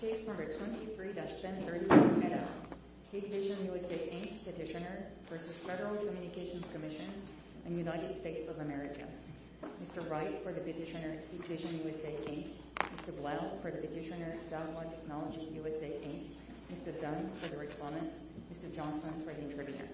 Please return to the recess center in your meadows. Hikvision USA, Inc. petitioner v. Federal Communications Commission of the United States of America. Mr. Wright for the petitioner, Hikvision USA, Inc. Mr. Blount for the petitioner, Southwest Knowledge USA, Inc. Mr. Dunn for the respondent. Mr. Johnson for the interpreter.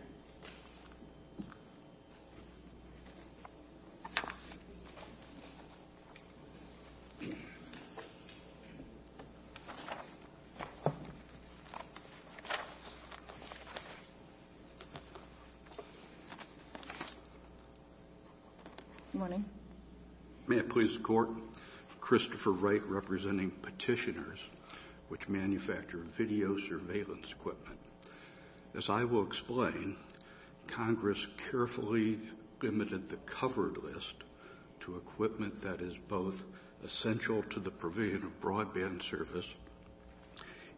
Good morning. May it please the Court, Christopher Wright representing petitioners which manufacture video surveillance equipment. As I will explain, Congress carefully limited the covered list to equipment that is both essential to the prevailing broadband service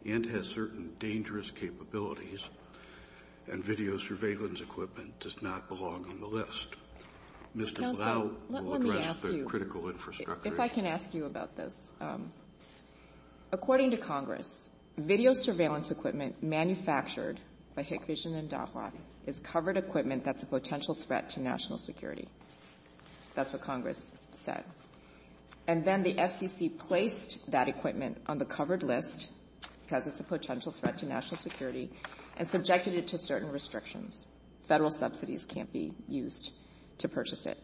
and has certain dangerous capabilities and video surveillance equipment does not belong on the list. Mr. Blount will address the critical infrastructure. If I can ask you about this. According to Congress, video surveillance equipment manufactured by Hikvision and DOCWA is covered equipment that's a potential threat to national security. That's what Congress said. And then the FCC placed that equipment on the covered list because it's a potential threat to national security and subjected it to certain restrictions. Federal subsidies can't be used to purchase it.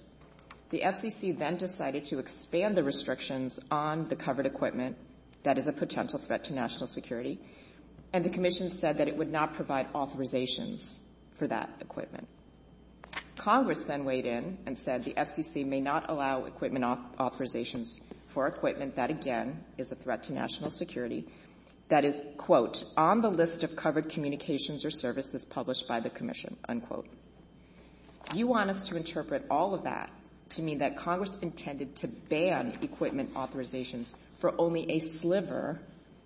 The FCC then decided to expand the restrictions on the covered equipment. That is a potential threat to national security. And the Commission said that it would not provide authorizations for that equipment. Congress then weighed in and said the FCC may not allow equipment authorizations for equipment. That, again, is a threat to national security. That is, quote, on the list of covered communications or services published by the Commission, unquote. You want us to interpret all of that to mean that Congress intended to ban equipment authorizations for only a sliver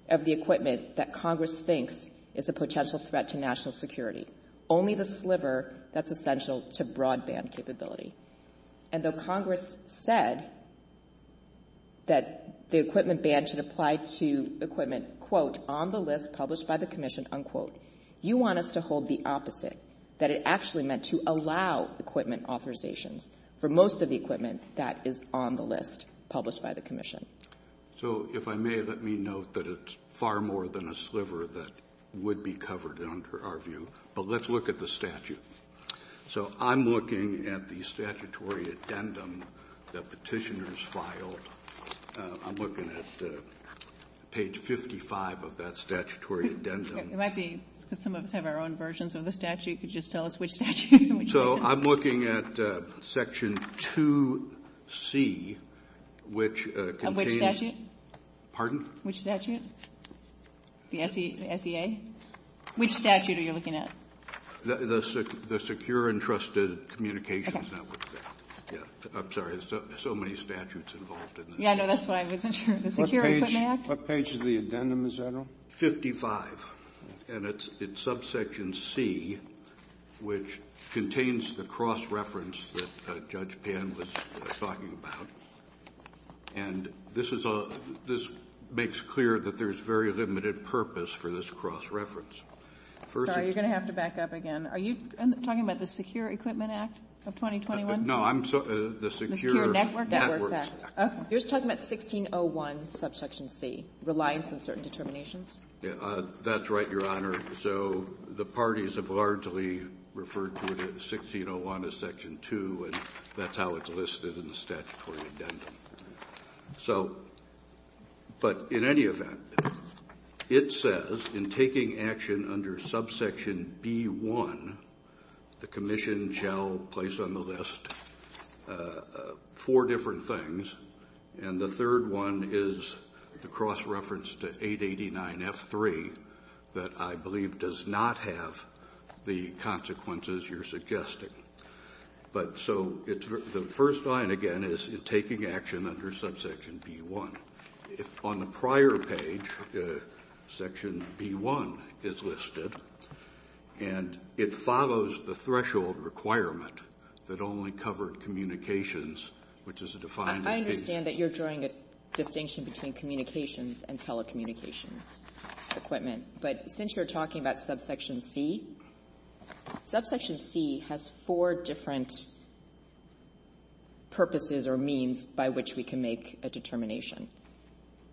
of the equipment that Congress thinks is a potential threat to national security. Only the sliver that's essential to broadband capability. And though Congress said that the equipment ban should apply to equipment, quote, on the list published by the Commission, unquote, you want us to hold the opposite, that it actually meant to allow equipment authorizations for most of the equipment that is on the list published by the Commission. So if I may, let me note that it's far more than a sliver that would be covered under our view. But let's look at the statute. So I'm looking at the statutory addendum that petitioners filed. I'm looking at page 55 of that statutory addendum. It might be that some of us have our own versions of the statute. Could you just tell us which statute? So I'm looking at section 2C, which contains... Which statute? Pardon? Which statute? The SEA? Which statute are you looking at? The Secure and Trusted Communications Act. I'm sorry, there's so many statutes involved in that. Yeah, no, that's fine. What page of the addendum is that on? 55. And it's subsection C, which contains the cross-reference that Judge Pan was talking about. And this makes clear that there's very limited purpose for this cross-reference. Sorry, you're going to have to back up again. Are you talking about the Secure Equipment Act of 2021? No, the Secure Networks Act. You're talking about 1601, subsection C, Reliance on Certain Determinations? That's right, Your Honor. So the parties have largely referred to 1601 as section 2, and that's how it's listed in the statutory addendum. So, but in any event, it says in taking action under subsection B1, the commission shall place on the list four different things. And the third one is the cross-reference to 889F3 that I believe does not have the consequences you're suggesting. But so the first line, again, is taking action under subsection B1. On the prior page, section B1 is listed, and it follows the threshold requirement that only covered communications, I understand that you're drawing a distinction between communications and telecommunications equipment. But since you're talking about subsection C, subsection C has four different purposes or means by which we can make a determination.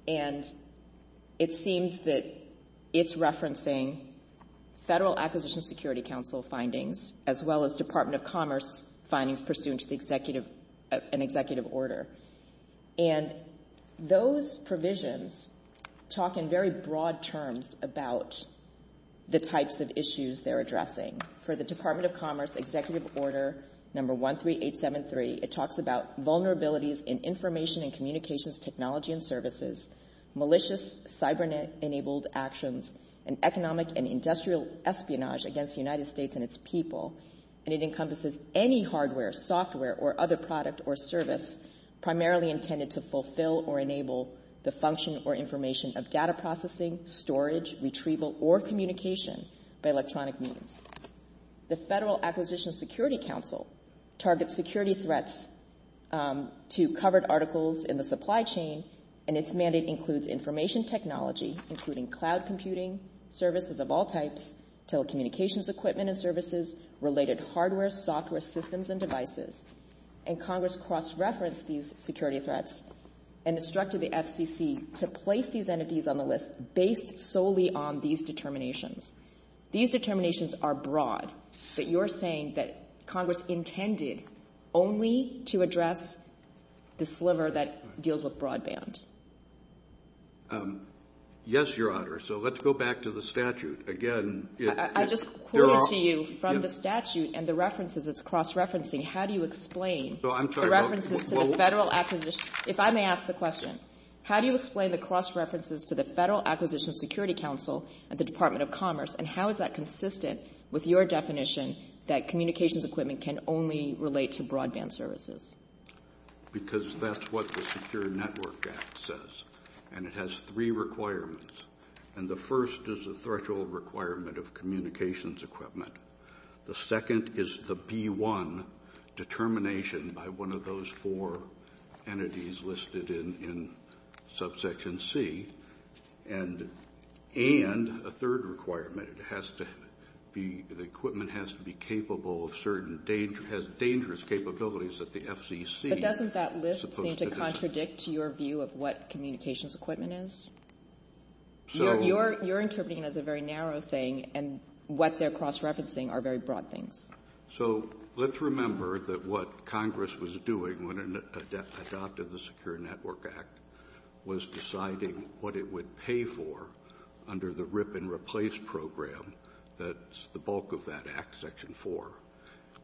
And it seems that it's referencing Federal Acquisition Security Council findings, as well as Department of Commerce findings pursuant to an executive order. And those provisions talk in very broad terms about the types of issues they're addressing. For the Department of Commerce executive order number 13873, it talks about vulnerabilities in information and communications technology and services, malicious cyber-enabled actions, and economic and industrial espionage against the United States and its people. And it encompasses any hardware, software, or other product or service primarily intended to fulfill or enable the function or information of data processing, storage, retrieval, or communication by electronic means. The Federal Acquisition Security Council targets security threats to covered articles in the supply chain, and its mandate includes information technology, including cloud computing, services of all types, telecommunications equipment and services, related hardware, software, systems, and devices. And Congress cross-referenced these security threats and instructed the FCC to place these entities on the list based solely on these determinations. These determinations are broad. You're saying that Congress intended only to address the sliver that deals with broadband. Yes, Your Honor. So let's go back to the statute again. I'm just quoting to you from the statute and the references it's cross-referencing. How do you explain the references to the Federal Acquisition Security Council and the Department of Commerce, and how is that consistent with your definition that communications equipment can only relate to broadband services? Because that's what the Secure Network Act says, and it has three requirements. And the first is the federal requirement of communications equipment. The second is the B-1 determination by one of those four entities listed in Subsection C. And a third requirement, the equipment has to be capable of certain dangerous capabilities that the FCC is supposed to do. But doesn't that list seem to contradict your view of what communications equipment is? You're interpreting it as a very narrow thing, and what they're cross-referencing are very broad things. So let's remember that what Congress was doing when it adopted the Secure Network Act was deciding what it would pay for under the Rip and Replace Program. That's the bulk of that Act, Section 4.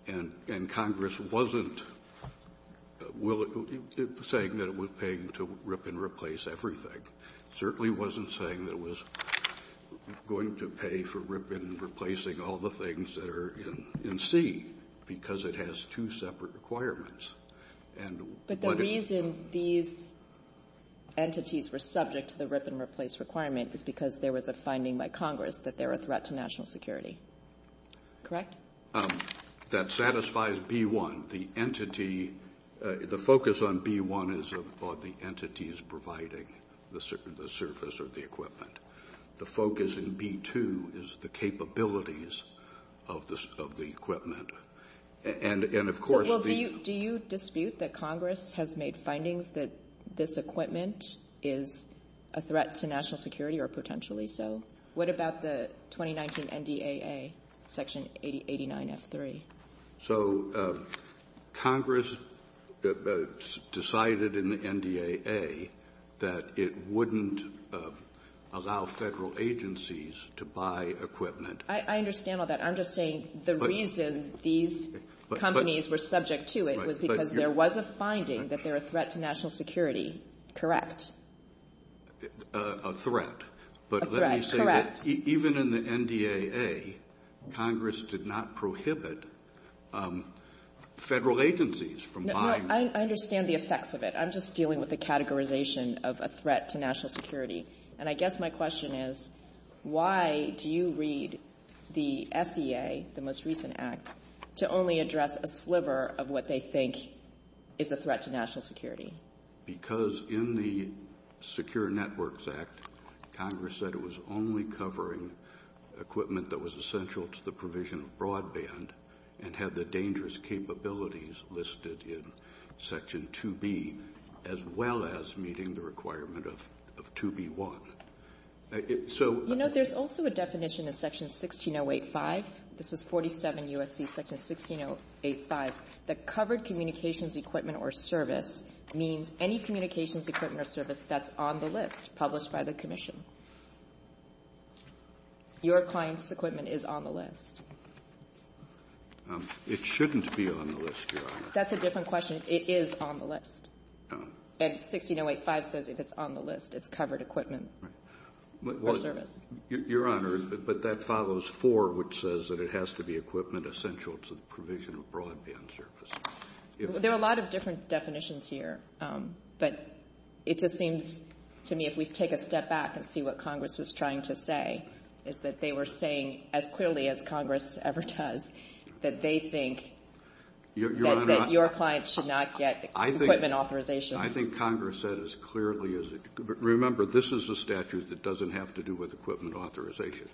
And Congress wasn't saying that it was paying to rip and replace everything. It certainly wasn't saying that it was going to pay for rip and replacing all the things that are in C, because it has two separate requirements. But the reason these entities were subject to the rip and replace requirement is because there was a finding by Congress that they're a threat to national security. Correct? That satisfies B-1. The focus on B-1 is on the entities providing the surface of the equipment. The focus in B-2 is the capabilities of the equipment. And, of course— Do you dispute that Congress has made findings that this equipment is a threat to national security, or potentially so? What about the 2019 NDAA, Section 89F3? So Congress decided in the NDAA that it wouldn't allow federal agencies to buy equipment. I understand all that. I'm just saying the reason these companies were subject to it was because there was a finding that they're a threat to national security. Correct? A threat. A threat. Correct. Even in the NDAA, Congress did not prohibit federal agencies from buying— No, I understand the effects of it. I'm just dealing with the categorization of a threat to national security. And I guess my question is, why do you read the FDA, the most recent act, to only address a sliver of what they think is a threat to national security? Because in the Secure Networks Act, Congress said it was only covering equipment that was essential to the provision of broadband and had the dangerous capabilities listed in Section 2B, as well as meeting the requirement of 2B-1. You know, there's also a definition in Section 16085—this is 47 U.S.C. Section 16085— that covered communications equipment or service means any communications equipment or service that's on the list published by the Commission. Your client's equipment is on the list. It shouldn't be on the list, Your Honor. That's a different question. It is on the list. And 16085 says if it's on the list, it's covered equipment or service. Your Honor, but that follows 4, which says that it has to be equipment essential to the provision of broadband service. There are a lot of different definitions here. But it just seems to me, if we take a step back and see what Congress was trying to say, is that they were saying, as clearly as Congress ever does, that they think that your client should not get equipment authorization. I think Congress said as clearly as—remember, this is a statute that doesn't have to do with equipment authorization.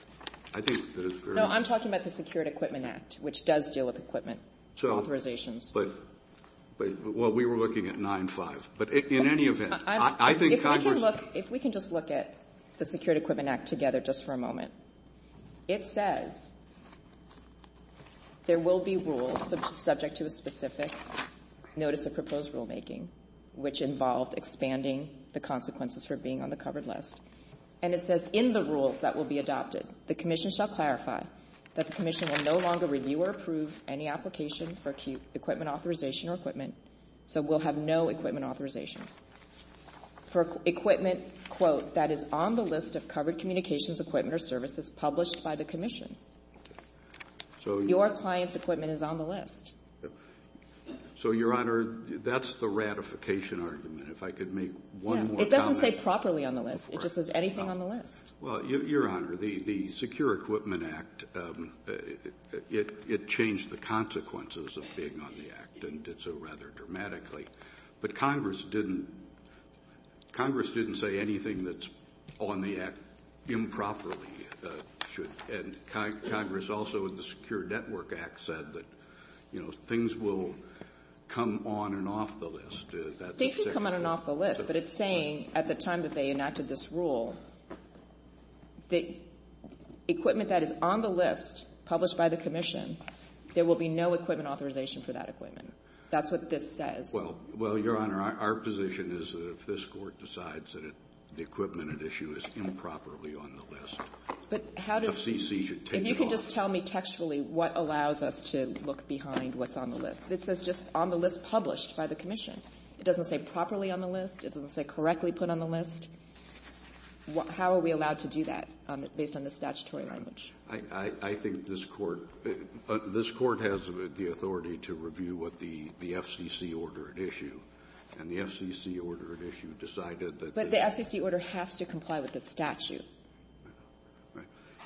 I'm talking about the Secured Equipment Act, which does deal with equipment authorizations. Well, we were looking at 9-5. But in any event, I think Congress— If we can just look at the Secured Equipment Act together just for a moment. It says there will be rules subject to the specific notice of proposed rulemaking, which involves expanding the consequences for being on the covered list. And it says in the rules that will be adopted, the commission shall clarify that the commission will no longer review or approve any application for equipment authorization or equipment, so we'll have no equipment authorization. For equipment, quote, that is on the list of covered communications, appointment, or services published by the commission. Your client's equipment is on the list. So, Your Honor, that's the ratification argument. If I could make one more comment. It doesn't say properly on the list. It just says anything on the list. Well, Your Honor, the Secured Equipment Act, it changed the consequences of being on the act, and did so rather dramatically. But Congress didn't say anything that's on the act improperly. And Congress also, in the Secured Network Act, said that things will come on and off the list. They can come on and off the list, but it's saying, at the time that they enacted this rule, that equipment that is on the list, published by the commission, there will be no equipment authorization for that equipment. That's what this says. Well, Your Honor, our position is that if this court decides that the equipment at issue is improperly on the list, FCC should take it off. If you could just tell me textually what allows us to look behind what's on the list. It says just on the list published by the commission. It doesn't say properly on the list. It doesn't say correctly put on the list. How are we allowed to do that based on the statutory language? I think this court has the authority to review what the FCC ordered at issue. And the FCC ordered at issue decided that the- But the FCC order has to comply with the statute.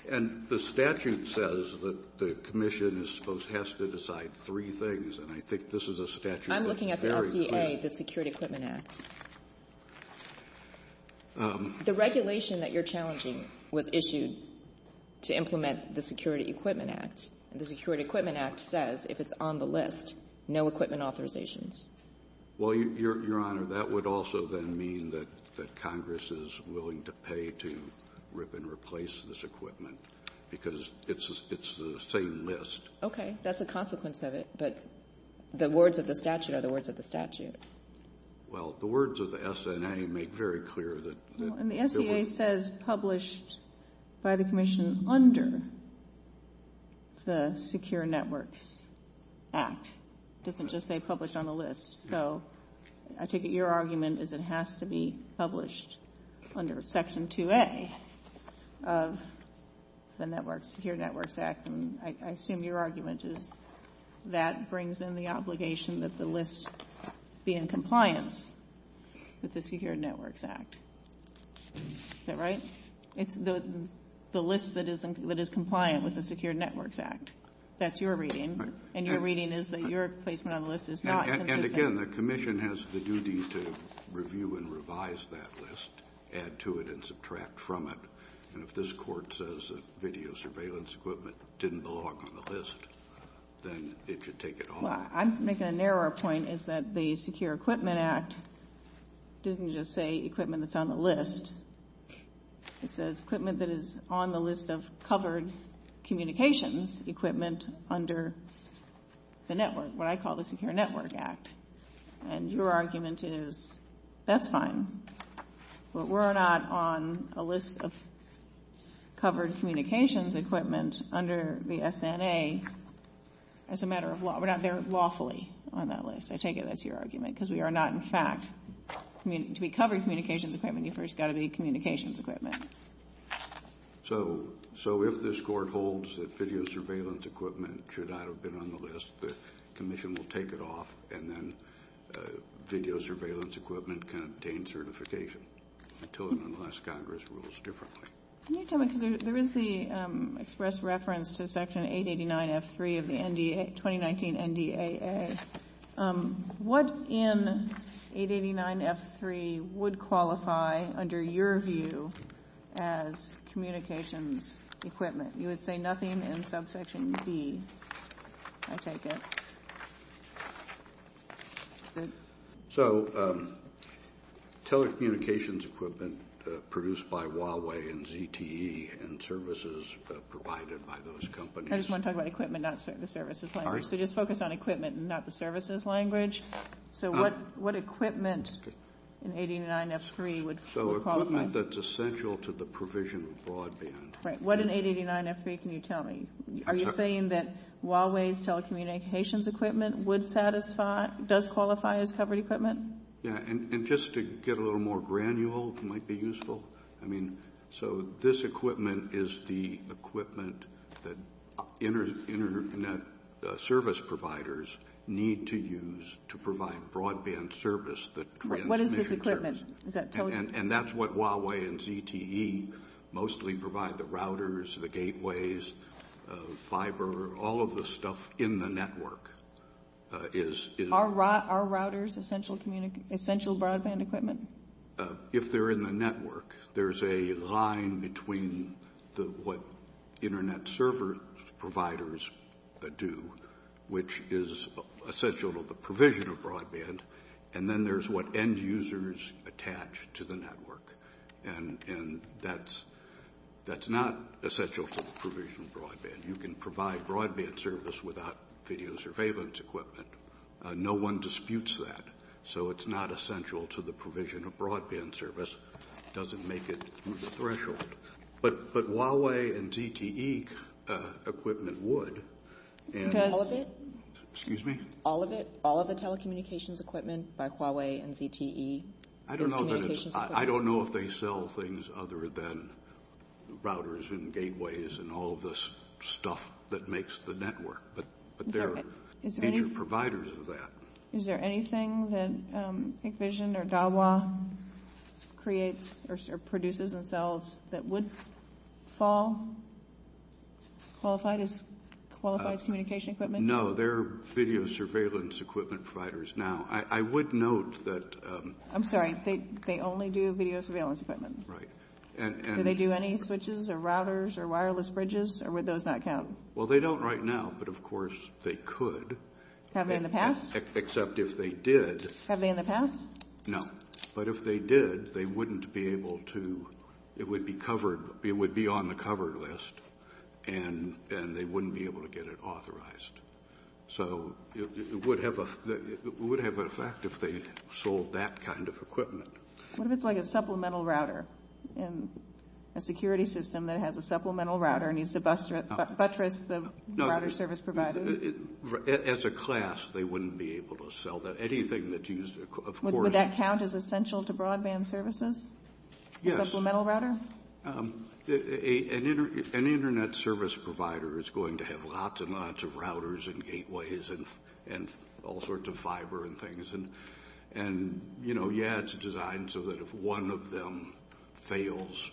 And the statute says that the commission is supposed to have to decide three things, and I think this is a statute that's very- I'm looking at the FDA, the Security Equipment Act. The regulation that you're challenging was issued to implement the Security Equipment Act. And the Security Equipment Act says if it's on the list, no equipment authorizations. Well, Your Honor, that would also then mean that Congress is willing to pay to rip and replace this equipment because it's the same list. Okay. That's a consequence of it. But the words of the statute are the words of the statute. Well, the words of the SNA make very clear that- And the SNA says published by the commission under the Secure Networks Act. It doesn't just say published on the list. So I take it your argument is it has to be published under Section 2A of the Secure Networks Act. I assume your argument is that brings in the obligation that the list be in compliance with the Secure Networks Act. Is that right? The list that is compliant with the Secure Networks Act. That's your reading. And your reading is that your placement on the list is not- And again, the commission has the duty to review and revise that list, add to it, and subtract from it. And if this court says that video surveillance equipment didn't belong on the list, then it should take it home. I'm making a narrower point. It's that the Secure Equipment Act didn't just say equipment that's on the list. It says equipment that is on the list of covered communications equipment under the network, what I call the Secure Networks Act. And your argument is that's fine. But we're not on a list of covered communications equipment under the SNA as a matter of law. We're not there lawfully on that list. I take it that's your argument because we are not, in fact, to be covered communications equipment, you first got to be communications equipment. So if this court holds that video surveillance equipment should not have been on the list, the commission will take it off. And then video surveillance equipment contains certification. I told them in the last Congress it was different. Let me tell you something. There is the express reference to Section 889F3 of the 2019 NDAA. What in 889F3 would qualify, under your view, as communications equipment? You would say nothing in subsection D, I take it. So telecommunications equipment produced by Huawei and ZTE and services provided by those companies. I just want to talk about equipment, not the services language. So just focus on equipment and not the services language. So what equipment in 889F3 would qualify? So equipment that's essential to the provision of broadband. Right. What in 889F3 can you tell me? Are you saying that Huawei's telecommunications equipment would satisfy, does qualify as covered equipment? Yeah. And just to get a little more granular, it might be useful. I mean, so this equipment is the equipment that internet service providers need to use to provide broadband service. What is this equipment? And that's what Huawei and ZTE mostly provide, the routers, the gateways, fiber, all of the stuff in the network. Are routers essential broadband equipment? If they're in the network, there's a line between what internet service providers do, which is essential to the provision of broadband, and then there's what end users attach to the network. And that's not essential to the provision of broadband. You can provide broadband service without video surveillance equipment. No one disputes that. So it's not essential to the provision of broadband service. It doesn't make it through the threshold. But Huawei and ZTE equipment would. All of it? Excuse me? All of it? All of the telecommunications equipment by Huawei and ZTE? I don't know if they sell things other than routers and gateways and all this stuff that makes the network. But they're major providers of that. Is there anything that Big Vision or Dahua creates or produces themselves that would fall, qualified as qualified communication equipment? No, they're video surveillance equipment providers now. I would note that... I'm sorry. They only do video surveillance equipment. Right. Do they do any switches or routers or wireless bridges, or would those not count? Well, they don't right now, but of course they could. Have they in the past? Except if they did. Have they in the past? No. But if they did, they wouldn't be able to... It would be on the covered list, and they wouldn't be able to get it authorized. So it would have an effect if they sold that kind of equipment. What if it's like a supplemental router? A security system that has a supplemental router and needs to buttress the router service provider? As a class, they wouldn't be able to sell that. Would that count as essential to broadband services? Yes. Supplemental router? An Internet service provider is going to have lots and lots of routers and gateways and all sorts of fiber and things. Yeah, it's designed so that if one of them fails,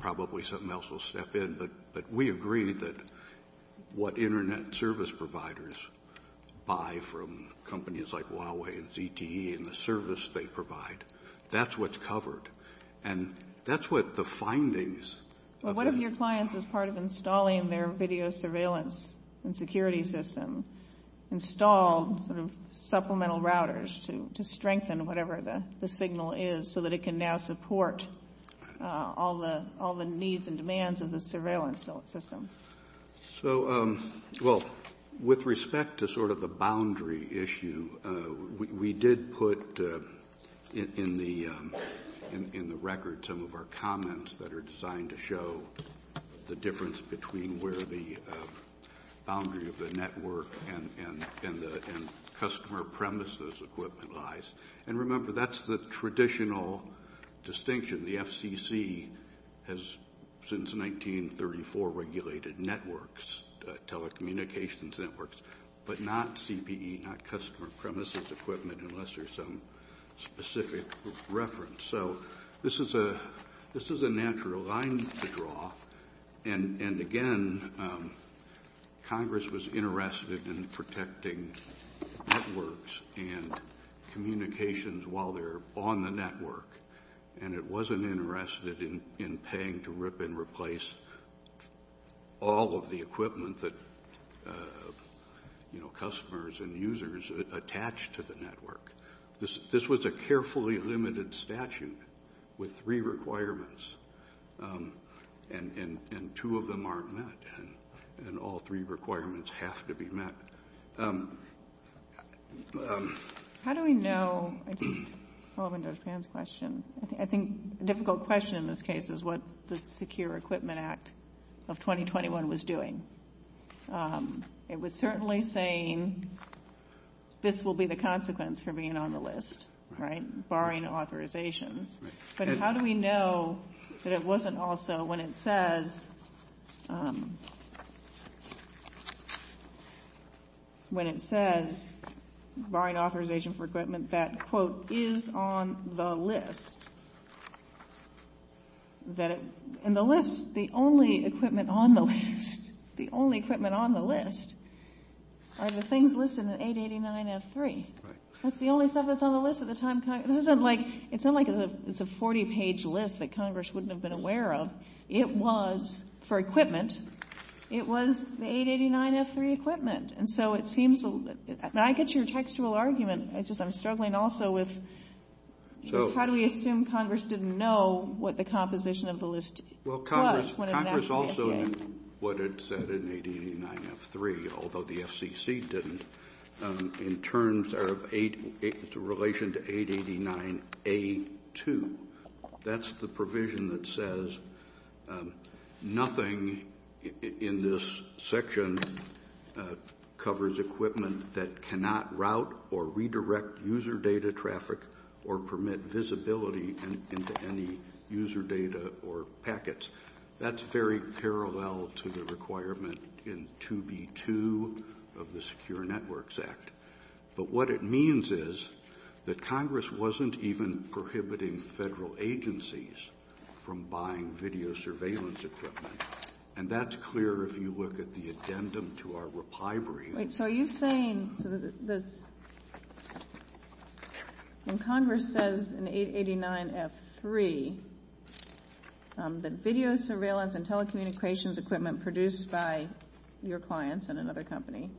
probably something else will step in. But we agree that what Internet service providers buy from companies like Huawei and ZTE and the service they provide, that's what's covered. And that's what the findings... What if your clients, as part of installing their video surveillance and security system, install supplemental routers to strengthen whatever the signal is, so that it can now support all the needs and demands of the surveillance system? With respect to sort of the boundary issue, we did put in the record some of our comments that are designed to show the difference between where the boundary of the network and customer premises equipment lies. And remember, that's the traditional distinction. The FCC has, since 1934, regulated networks, telecommunications networks, but not CPE, not customer premises equipment, unless there's some specific reference. So this is a natural line to draw. And, again, Congress was interested in protecting networks and communications while they're on the network. And it wasn't interested in paying to rip and replace all of the equipment that customers and users attach to the network. This was a carefully limited statute with three requirements, and two of them aren't met, and all three requirements have to be met. How do we know – I think a difficult question in this case is what the Secure Equipment Act of 2021 was doing. It was certainly saying this will be the consequence for being on the list, right, barring authorization. But how do we know that it wasn't also, when it says – when it says barring authorization for equipment that, quote, is on the list, that it – and the list – the only equipment on the list – the only equipment on the list are the things listed in 889F3. That's the only stuff that's on the list at the time Congress – this isn't like – it's not like it's a 40-page list that Congress wouldn't have been aware of. It was, for equipment, it was the 889F3 equipment. And so it seems to – and I get your textual argument. It's just I'm struggling also with how do we assume Congress didn't know what the composition of the list was when it actually did. Congress also knew what it said in 889F3, although the FCC didn't, in terms of – in relation to 889A2. That's the provision that says nothing in this section covers equipment that cannot route or redirect user data traffic or permit visibility into any user data or packets. That's very parallel to the requirement in 2B2 of the Secure Networks Act. But what it means is that Congress wasn't even prohibiting federal agencies from buying video surveillance equipment. And that's clear if you look at the addendum to our reply brief. So are you saying that – and Congress says in 889F3 that video surveillance and telecommunications equipment produced by your clients and other companies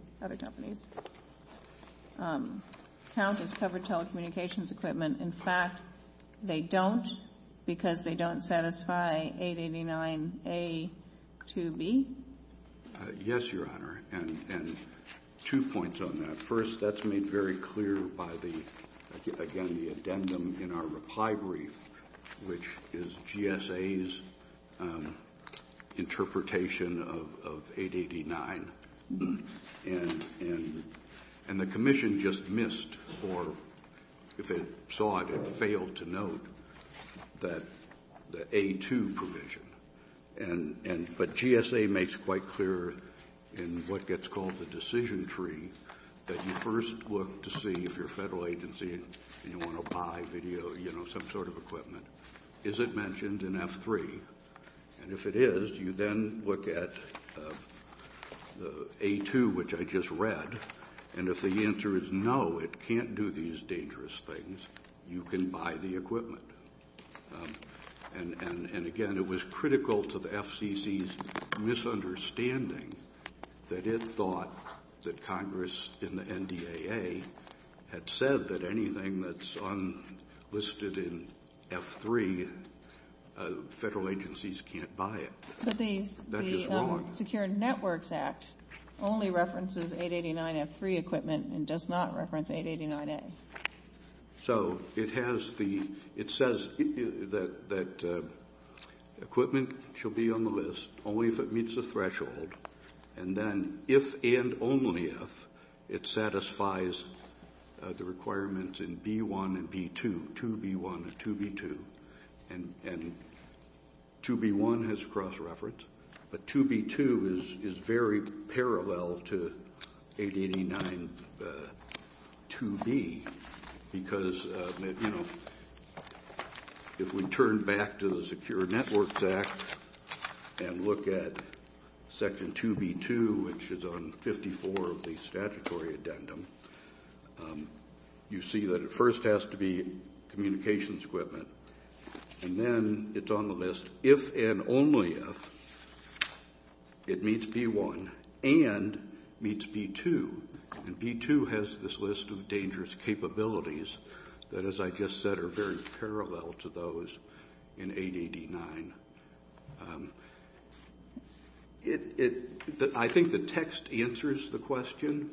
count as covered telecommunications equipment. In fact, they don't because they don't satisfy 889A2B? Yes, Your Honor, and two points on that. First, that's made very clear by the – again, the addendum in our reply brief, which is GSA's interpretation of 889. And the commission just missed or if it saw it, it failed to note that the A2 provision. But GSA makes quite clear in what gets called the decision tree that you first look to see if your federal agency, and you want to buy video, you know, some sort of equipment, is it mentioned in F3? And if it is, you then look at the A2, which I just read, and if the answer is no, it can't do these dangerous things, you can buy the equipment. And again, it was critical to the FCC's misunderstanding that it thought that Congress in the NDAA had said that anything that's listed in F3, federal agencies can't buy it. But the Secure Networks Act only references 889F3 equipment and does not reference 889A. So it has the – it says that equipment should be on the list only if it meets the threshold, and then if and only if it satisfies the requirements in B1 and B2, 2B1 and 2B2. And 2B1 has cross-reference, but 2B2 is very parallel to 8892B because, you know, if we turn back to the Secure Networks Act and look at Section 2B2, which is on 54 of the statutory addendum, you see that it first has to be communications equipment, and then it's on the list if and only if it meets B1 and meets B2. And B2 has this list of dangerous capabilities that, as I just said, are very parallel to those in 889. It – I think the text answers the question,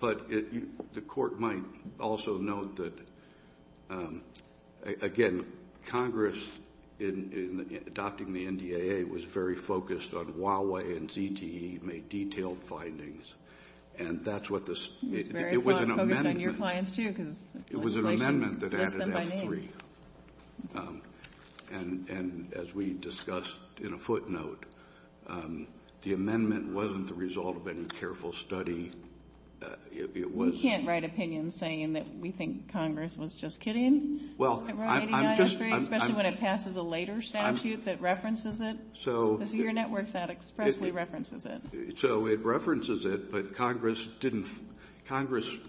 but the court might also note that, again, Congress in adopting the NDAA was very focused on Huawei and ZTE made detailed findings, and that's what this – it was an amendment. It was an amendment that added S3, and as we discussed in a footnote, the amendment wasn't the result of any careful study. It was – You can't write opinions saying that we think Congress was just kidding about 889S3, especially when it passes a later statute that references it. So – The Secure Networks Act expressly references it. So it references it, but Congress didn't – Congress –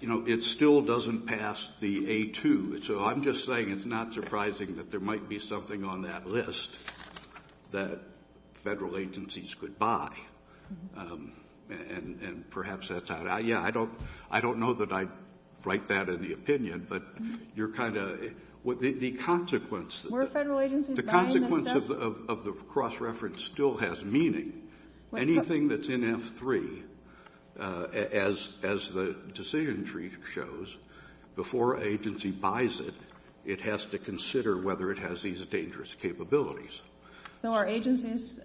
you know, it still doesn't pass the A2. So I'm just saying it's not surprising that there might be something on that list that federal agencies could buy, and perhaps that's how – yeah, I don't know that I'd write that in the opinion, but you're kind of – the consequences – Were federal agencies buying that stuff? The consequence of the cross-reference still has meaning. Anything that's in S3, as the decision tree shows, before an agency buys it, it has to consider whether it has these dangerous capabilities. So are agencies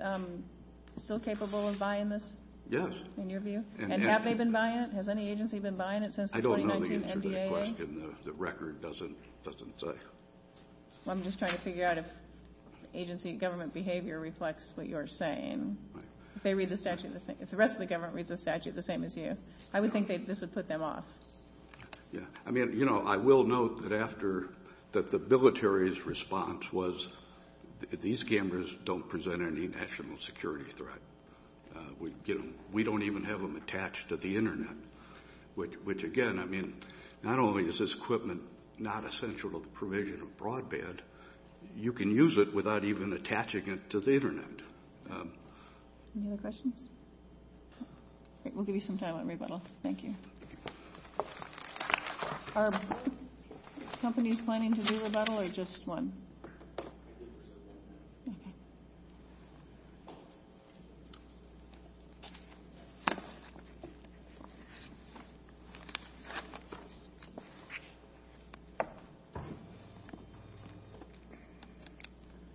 still capable of buying this? Yes. In your view? And have they been buying it? Has any agency been buying it since the 1990 NDAA? I don't know the answer to that question. The record doesn't say. I'm just trying to figure out if agency government behavior reflects what you're saying. Right. If they read the statute the same – if the rest of the government reads the statute the same as you, I would think this would put them off. Yeah. I mean, you know, I will note that after – that the military's response was, these cameras don't present any national security threat. We don't even have them attached to the Internet, which, again, I mean, not only is this equipment not essential to the provision of broadband, you can use it without even attaching it to the Internet. Any other questions? All right. We'll give you some time on rebuttal. Thank you. Are companies planning to do rebuttal, or just one? Okay.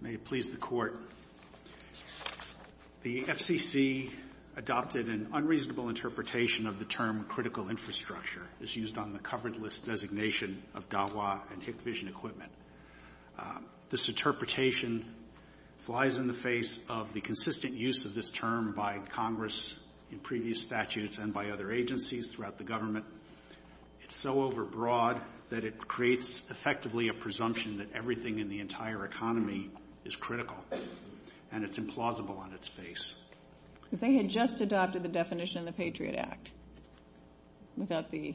May it please the Court, the FCC adopted an unreasonable interpretation of the term critical infrastructure. This interpretation flies in the face of the consistent use of this term by Congress in previous statutes and by other agencies throughout the government. It's so overbroad that it creates effectively a presumption that everything in the entire economy is critical, and it's implausible on its face. If they had just adopted the definition of the Patriot Act without the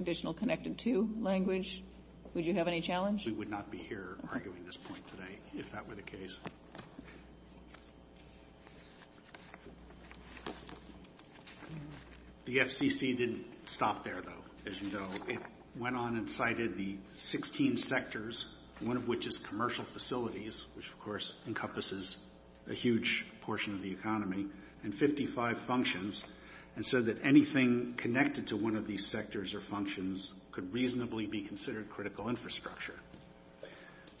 additional connected to language, would you have any challenge? We would not be here arguing this point today, if that were the case. The FCC didn't stop there, though, as you know. It went on and cited the 16 sectors, one of which is commercial facilities, which, of course, encompasses a huge portion of the economy, and 55 functions, and said that anything connected to one of these sectors or functions could reasonably be considered critical infrastructure.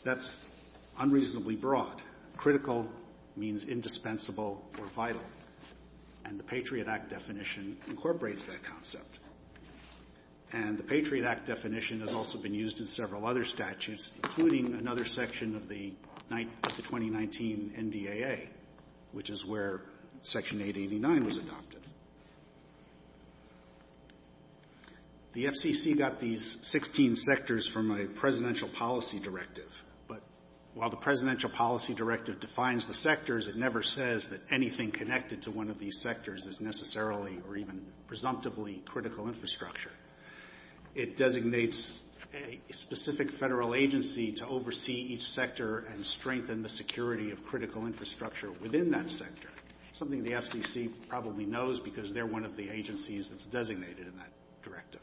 That's unreasonably broad. Critical means indispensable or vital, and the Patriot Act definition incorporates that concept. The Patriot Act definition has also been used in several other statutes, including another section of the 2019 NDAA, which is where Section 889 was adopted. The FCC got these 16 sectors from a presidential policy directive, but while the presidential policy directive defines the sectors, it never says that anything connected to one of these sectors is necessarily or even presumptively critical infrastructure. It designates a specific federal agency to oversee each sector and strengthen the security of critical infrastructure within that sector, something the FCC probably knows because they're one of the agencies that's designated in that directive.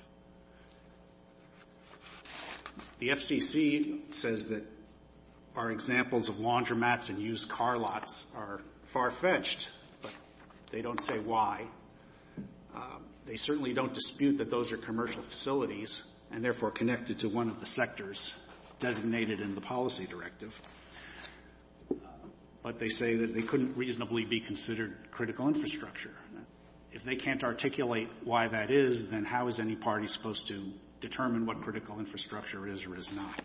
The FCC says that our examples of laundromats and used car lots are far-fetched. They don't say why. They certainly don't dispute that those are commercial facilities and, therefore, connected to one of the sectors designated in the policy directive, but they say that they couldn't reasonably be considered critical infrastructure. If they can't articulate why that is, then how is any party supposed to determine what critical infrastructure is or is not?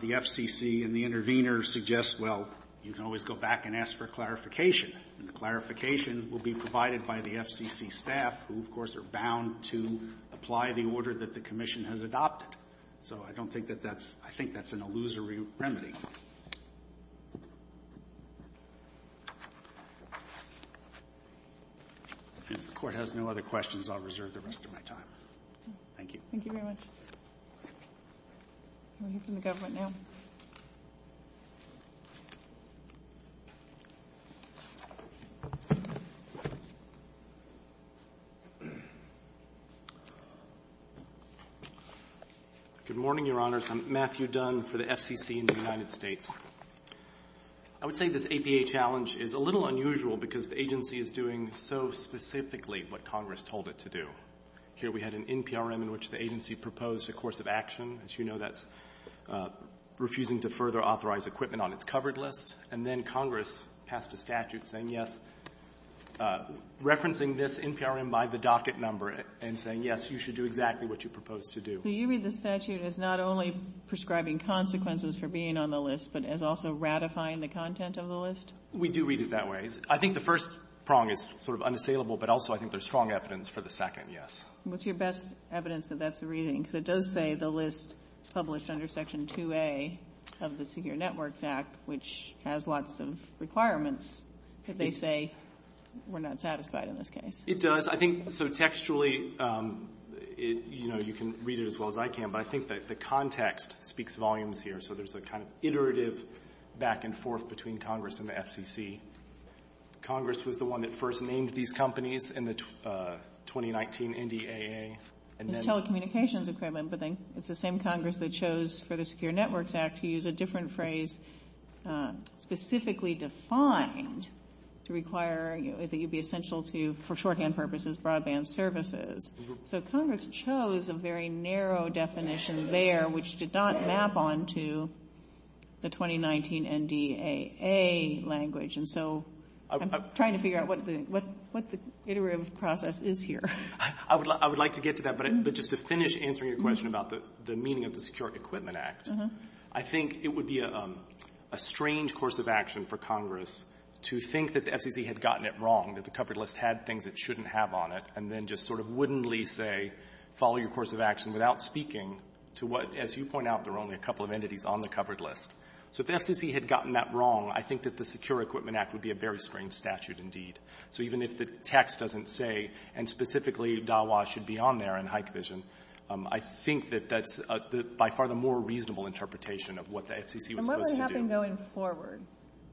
The FCC and the intervener suggest, well, you can always go back and ask for clarification, and the clarification will be provided by the FCC staff, who, of course, are bound to apply the order that the commission has adopted. So I don't think that that's – I think that's an illusory remedy. If the court has no other questions, I'll reserve the rest of my time. Thank you. Thank you very much. Good morning, Your Honors. I'm Matthew Dunn for the FCC in the United States. I would say this APA challenge is a little unusual because the agency is doing so specifically what Congress told it to do. Here we had an NPRM in which the agency proposed a course of action. As you know, that's refusing to further authorize equipment on its covered list. And then Congress passed a statute saying, yes, referencing this NPRM by the docket number and saying, yes, you should do exactly what you proposed to do. So you read the statute as not only prescribing consequences for being on the list but as also ratifying the content of the list? We do read it that way. I think the first prong is sort of unassailable, but also I think there's strong evidence for the second, yes. What's your best evidence that that's the reading? Because it does say the list published under Section 2A of the Senior Networks Act, which has lots of requirements, but they say we're not satisfied in this case. It does. I think so textually you can read it as well as I can, but I think the context speaks volumes here. So there's a kind of iterative back and forth between Congress and the FCC. Congress was the one that first named these companies in the 2019 NDAA. And telecommunications equipment, but then it's the same Congress that chose Photo Secure Networks Act to use a different phrase specifically defined to require that you'd be essential to, for shorthand purposes, broadband services. So Congress chose a very narrow definition there which did not map onto the 2019 NDAA language. And so I'm trying to figure out what the iterative process is here. I would like to get to that, but just to finish answering your question about the meaning of the Secure Equipment Act, I think it would be a strange course of action for Congress to think that the FCC had gotten it wrong, that the covered list had things it shouldn't have on it, and then just sort of wouldn't say follow your course of action without speaking to what, as you point out, there are only a couple of entities on the covered list. So if the FCC had gotten that wrong, I think that the Secure Equipment Act would be a very strange statute indeed. So even if the text doesn't say, and specifically Dawa should be on there in high division, I think that that's by far the more reasonable interpretation of what the FCC was supposed to do. And what would happen going forward?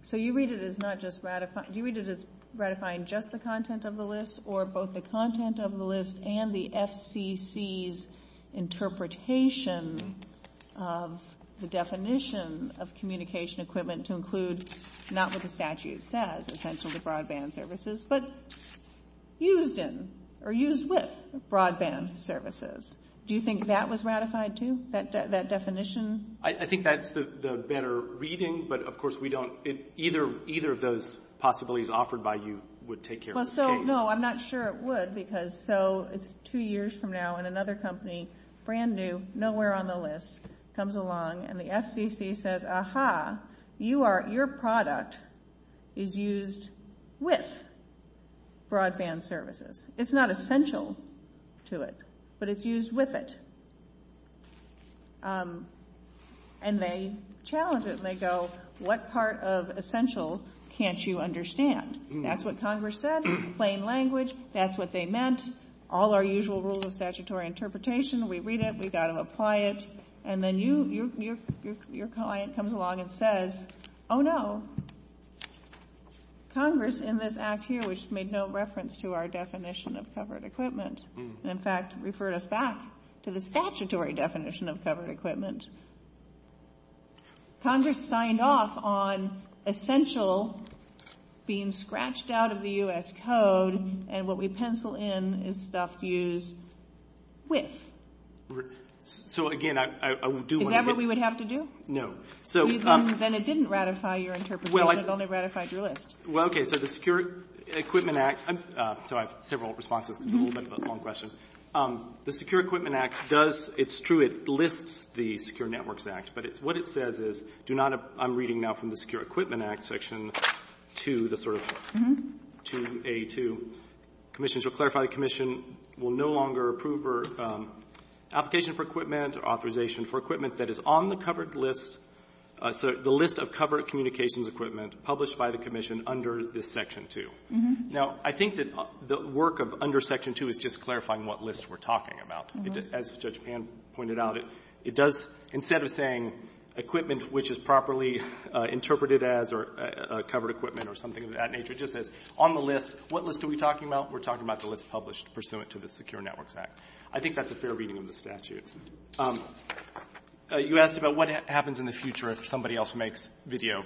So you read it as ratifying just the content of the list or both the content of the list and the FCC's interpretation of the definition of communication equipment to include not what the statute says, but used in or used with broadband services. Do you think that was ratified too, that definition? I think that's the better reading, but of course we don't, either of those possibilities offered by you would take care of the case. No, I'm not sure it would because so two years from now and another company, brand new, nowhere on the list, comes along and the FCC says, your product is used with broadband services. It's not essential to it, but it's used with it. And they challenge it and they go, what part of essential can't you understand? That's what Congress said, plain language, that's what they meant, all our usual rules of statutory interpretation, we read it, we've got to apply it, and then your client comes along and says, oh no, Congress in this act here, which made no reference to our definition of covered equipment, in fact referred us back to the statutory definition of covered equipment, Congress signed off on essential being scratched out of the U.S. code and what we pencil in is stuff used with. Is that what we would have to do? No. Then it didn't ratify your interpretation, it only ratified your list. Well, okay, so the Secure Equipment Act, so I have several responses, a little bit of a long question, the Secure Equipment Act does, it's true, it lists the Secure Networks Act, but what it says is, I'm reading now from the Secure Equipment Act section to a commission, which will clarify the commission will no longer approve or application for equipment or authorization for equipment that is on the covered list, so the list of covered communications equipment published by the commission under this section 2. Now, I think that the work of under section 2 is just clarifying what list we're talking about. As Judge Pan pointed out, it does, instead of saying equipment which is properly interpreted as or covered equipment or something of that nature, just that on the list, what list are we talking about? We're talking about the list published pursuant to the Secure Networks Act. I think that's a fair reading of the statute. You asked about what happens in the future if somebody else makes video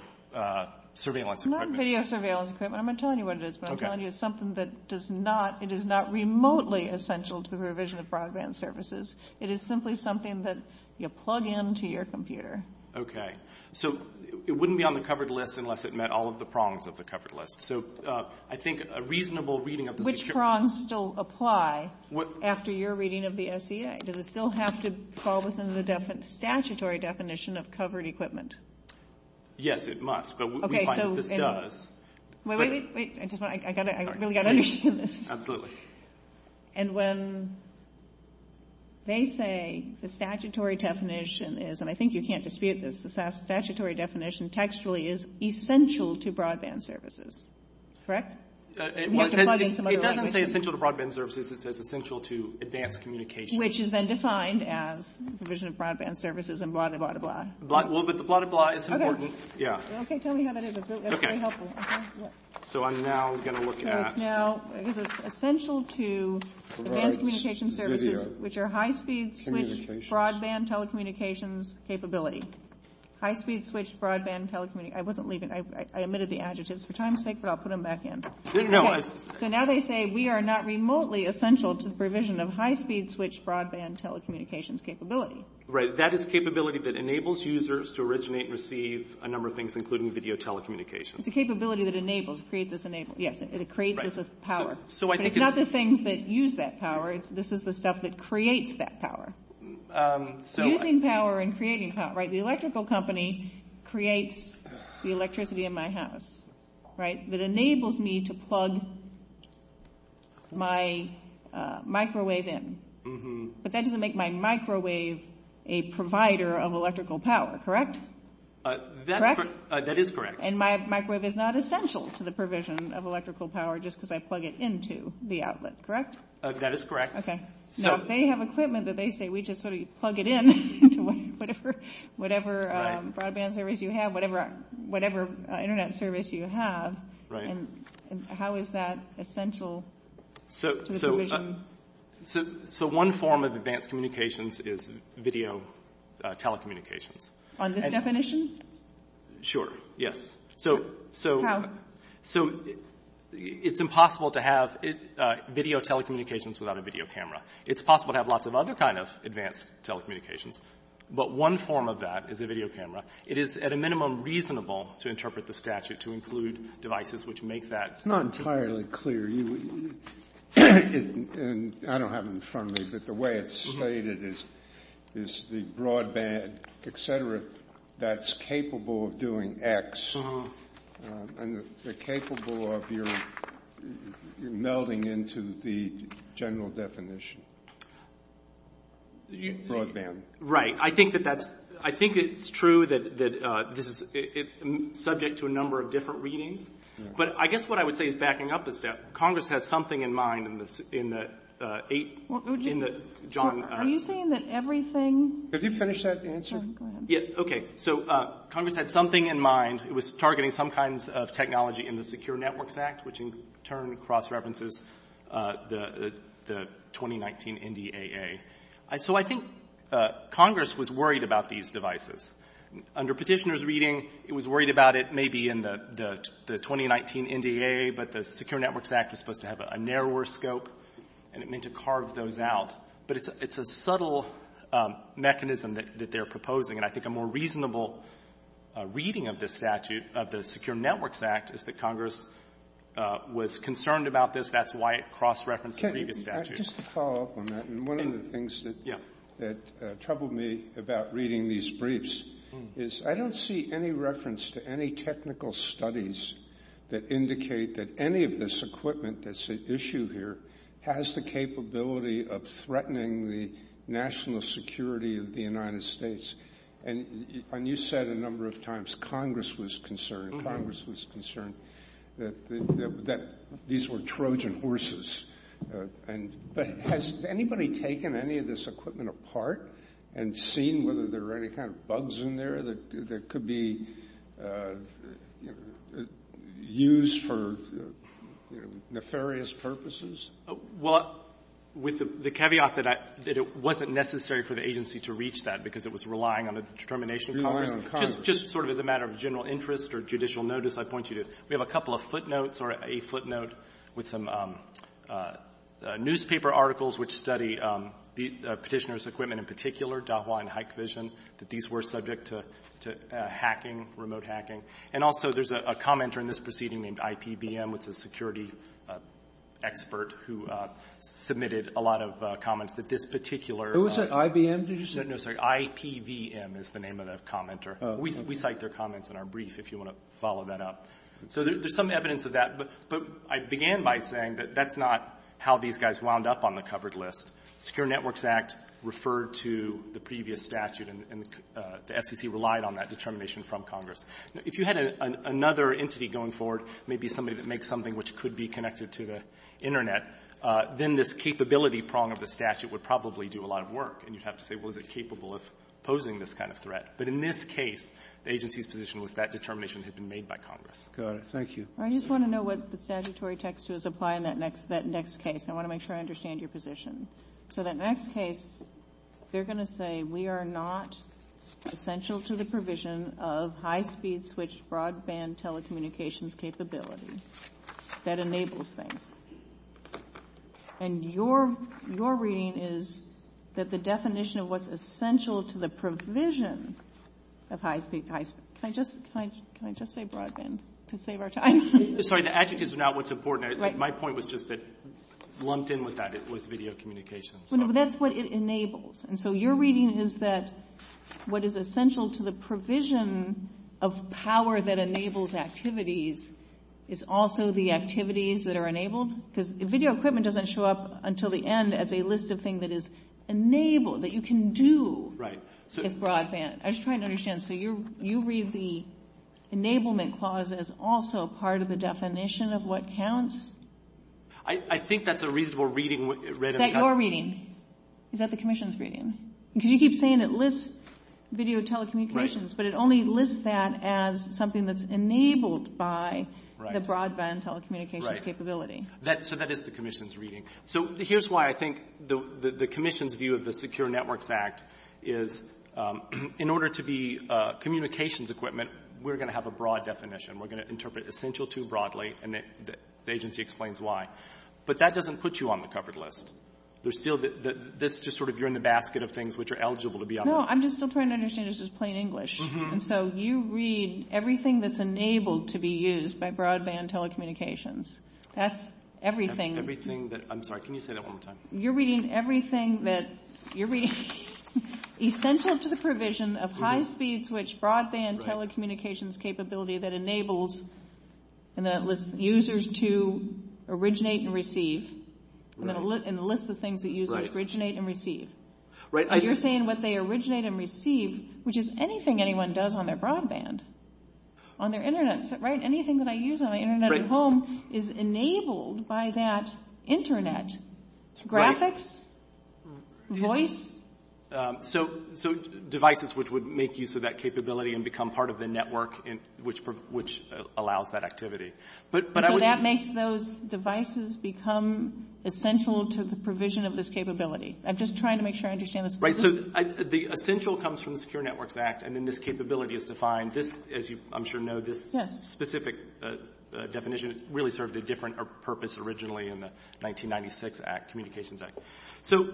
surveillance equipment. Not video surveillance equipment, I'm not telling you what it is, but I'm telling you it's something that does not, it is not remotely essential to the provision of broadband services. It is simply something that you plug into your computer. Okay, so it wouldn't be on the covered list unless it met all of the prongs of the covered list. I think a reasonable reading of the Secure Networks Act... Which prongs still apply after your reading of the OCA? Does it still have to fall within the statutory definition of covered equipment? Yes, it must, but we find that it does. Wait, I really got to understand this. Absolutely. And when they say the statutory definition is, and I think you can't dispute this, the statutory definition textually is essential to broadband services, correct? It doesn't say essential to broadband services, it says essential to advanced communication. Which is then defined as provision of broadband services and blah, blah, blah. Well, but the blah, blah, blah is important. Okay, tell me how that is, that's really helpful. So I'm now going to look at... High-speed switch broadband telecommunications capability. High-speed switch broadband telecommunications... I wasn't leaving, I omitted the adjectives for time's sake, but I'll put them back in. So now they say we are not remotely essential to the provision of high-speed switch broadband telecommunications capability. Right, that is a capability that enables users to originate and receive a number of things, including video telecommunications. It's a capability that enables, creates this power. It's not the things that use that power, this is the stuff that creates that power. Using power and creating power, right? The electrical company creates the electricity in my house, right? That enables me to plug my microwave in. But that doesn't make my microwave a provider of electrical power, correct? That is correct. And my microwave is not essential to the provision of electrical power just because I plug it into the outlet, correct? That is correct. Okay. So they have equipment that they say we just sort of plug it in to whatever broadband service you have, whatever Internet service you have, and how is that essential to the provision? So one form of advanced communications is video telecommunications. On this definition? Sure, yes. So it's impossible to have video telecommunications without a video camera. It's possible to have lots of other kind of advanced telecommunications, but one form of that is a video camera. It is, at a minimum, reasonable to interpret the statute to include devices which make that. It's not entirely clear. I don't have it in front of me, but the way it's stated is the broadband, et cetera, that's capable of doing X, and they're capable of your melding into the general definition. Broadband. Right. I think it's true that it's subject to a number of different readings, but I guess what I would say is backing up is that Congress has something in mind in the eight – Are you saying that everything – Could you finish that answer? Yes, okay. So Congress had something in mind. It was targeting some kinds of technology in the Secure Networks Act, which in turn cross-references the 2019 NDAA. So I think Congress was worried about these devices. Under petitioner's reading, it was worried about it maybe in the 2019 NDAA, but the Secure Networks Act is supposed to have a narrower scope, and it meant to carve those out. But it's a subtle mechanism that they're proposing, and I think a more reasonable reading of the Secure Networks Act is that Congress was concerned about this. That's why it cross-referenced the previous statute. Just to follow up on that, one of the things that troubled me about reading these briefs is I don't see any reference to any technical studies that indicate that any of this equipment that's issued here has the capability of threatening the national security of the United States. And you said a number of times Congress was concerned that these were Trojan horses, but has anybody taken any of this equipment apart and seen whether there are any kind of bugs in there that could be used for nefarious purposes? Well, with the caveat that it wasn't necessary for the agency to reach that because it was relying on the determination of Congress. Just sort of as a matter of general interest or judicial notice, I point you to it. There's a couple of footnotes or a footnote with some newspaper articles which study the petitioner's equipment in particular, Dahua and Hikvision, that these were subject to hacking, remote hacking. And also there's a commenter in this proceeding named IPVM, which is a security expert who submitted a lot of comments, but this particular— Who was that, IBM, did you say? No, sorry, IPVM is the name of that commenter. We cite their comments in our brief if you want to follow that up. So there's some evidence of that, but I began by saying that that's not how these guys wound up on the covered list. Secure Networks Act referred to the previous statute and the FCC relied on that determination from Congress. If you had another entity going forward, maybe somebody that makes something which could be connected to the Internet, then this capability prong of the statute would probably do a lot of work and you'd have to say was it capable of posing this kind of threat. But in this case, the agency's position was that determination had been made by Congress. Got it, thank you. I just want to know what the statutory text is applying that next case. I want to make sure I understand your position. So that next case, they're going to say we are not essential to the provision of high-speed switch broadband telecommunications capability that enables things. And your reading is that the definition of what's essential to the provision of high-speed broadband. Can I just say broadband to save our time? Sorry, the adjectives are not what's important. My point was just that lumped in with that was video communication. That's what it enables. And so your reading is that what is essential to the provision of power that enables activities is also the activities that are enabled? Because video equipment doesn't show up until the end as a list of things that is enabled, that you can do with broadband. I'm just trying to understand. So you read the enablement clause as also part of the definition of what counts? I think that's a reasonable reading. Is that your reading? Is that the commission's reading? Because you keep saying it lists video telecommunications, but it only lists that as something that's enabled by the broadband telecommunications capability. So that is the commission's reading. So here's why I think the commission's view of the Secure Networks Act is in order to be communications equipment, we're going to have a broad definition. We're going to interpret essential too broadly, and the agency explains why. But that doesn't put you on the covered list. That's just sort of you're in the basket of things which are eligible to be on the list. No, I'm just still trying to understand. This is plain English. So you read everything that's enabled to be used by broadband telecommunications. That's everything. That's everything. I'm sorry. Can you say that one more time? You're reading everything that's essential to the provision of high-speed switch broadband telecommunications capability that enables users to originate and receive and lists the things that users originate and receive. You're saying what they originate and receive, which is anything anyone does on their broadband, on their internet, right? Anything that I use on the internet at home is enabled by that internet. Graphics, voice. So devices which would make use of that capability and become part of the network which allows that activity. So that makes those devices become essential to the provision of this capability. I'm just trying to make sure I understand this. Right. So the essential comes from the Secure Networks Act, and then this capability is defined. As I'm sure you know, this specific definition really served a different purpose originally in the 1996 communications act. So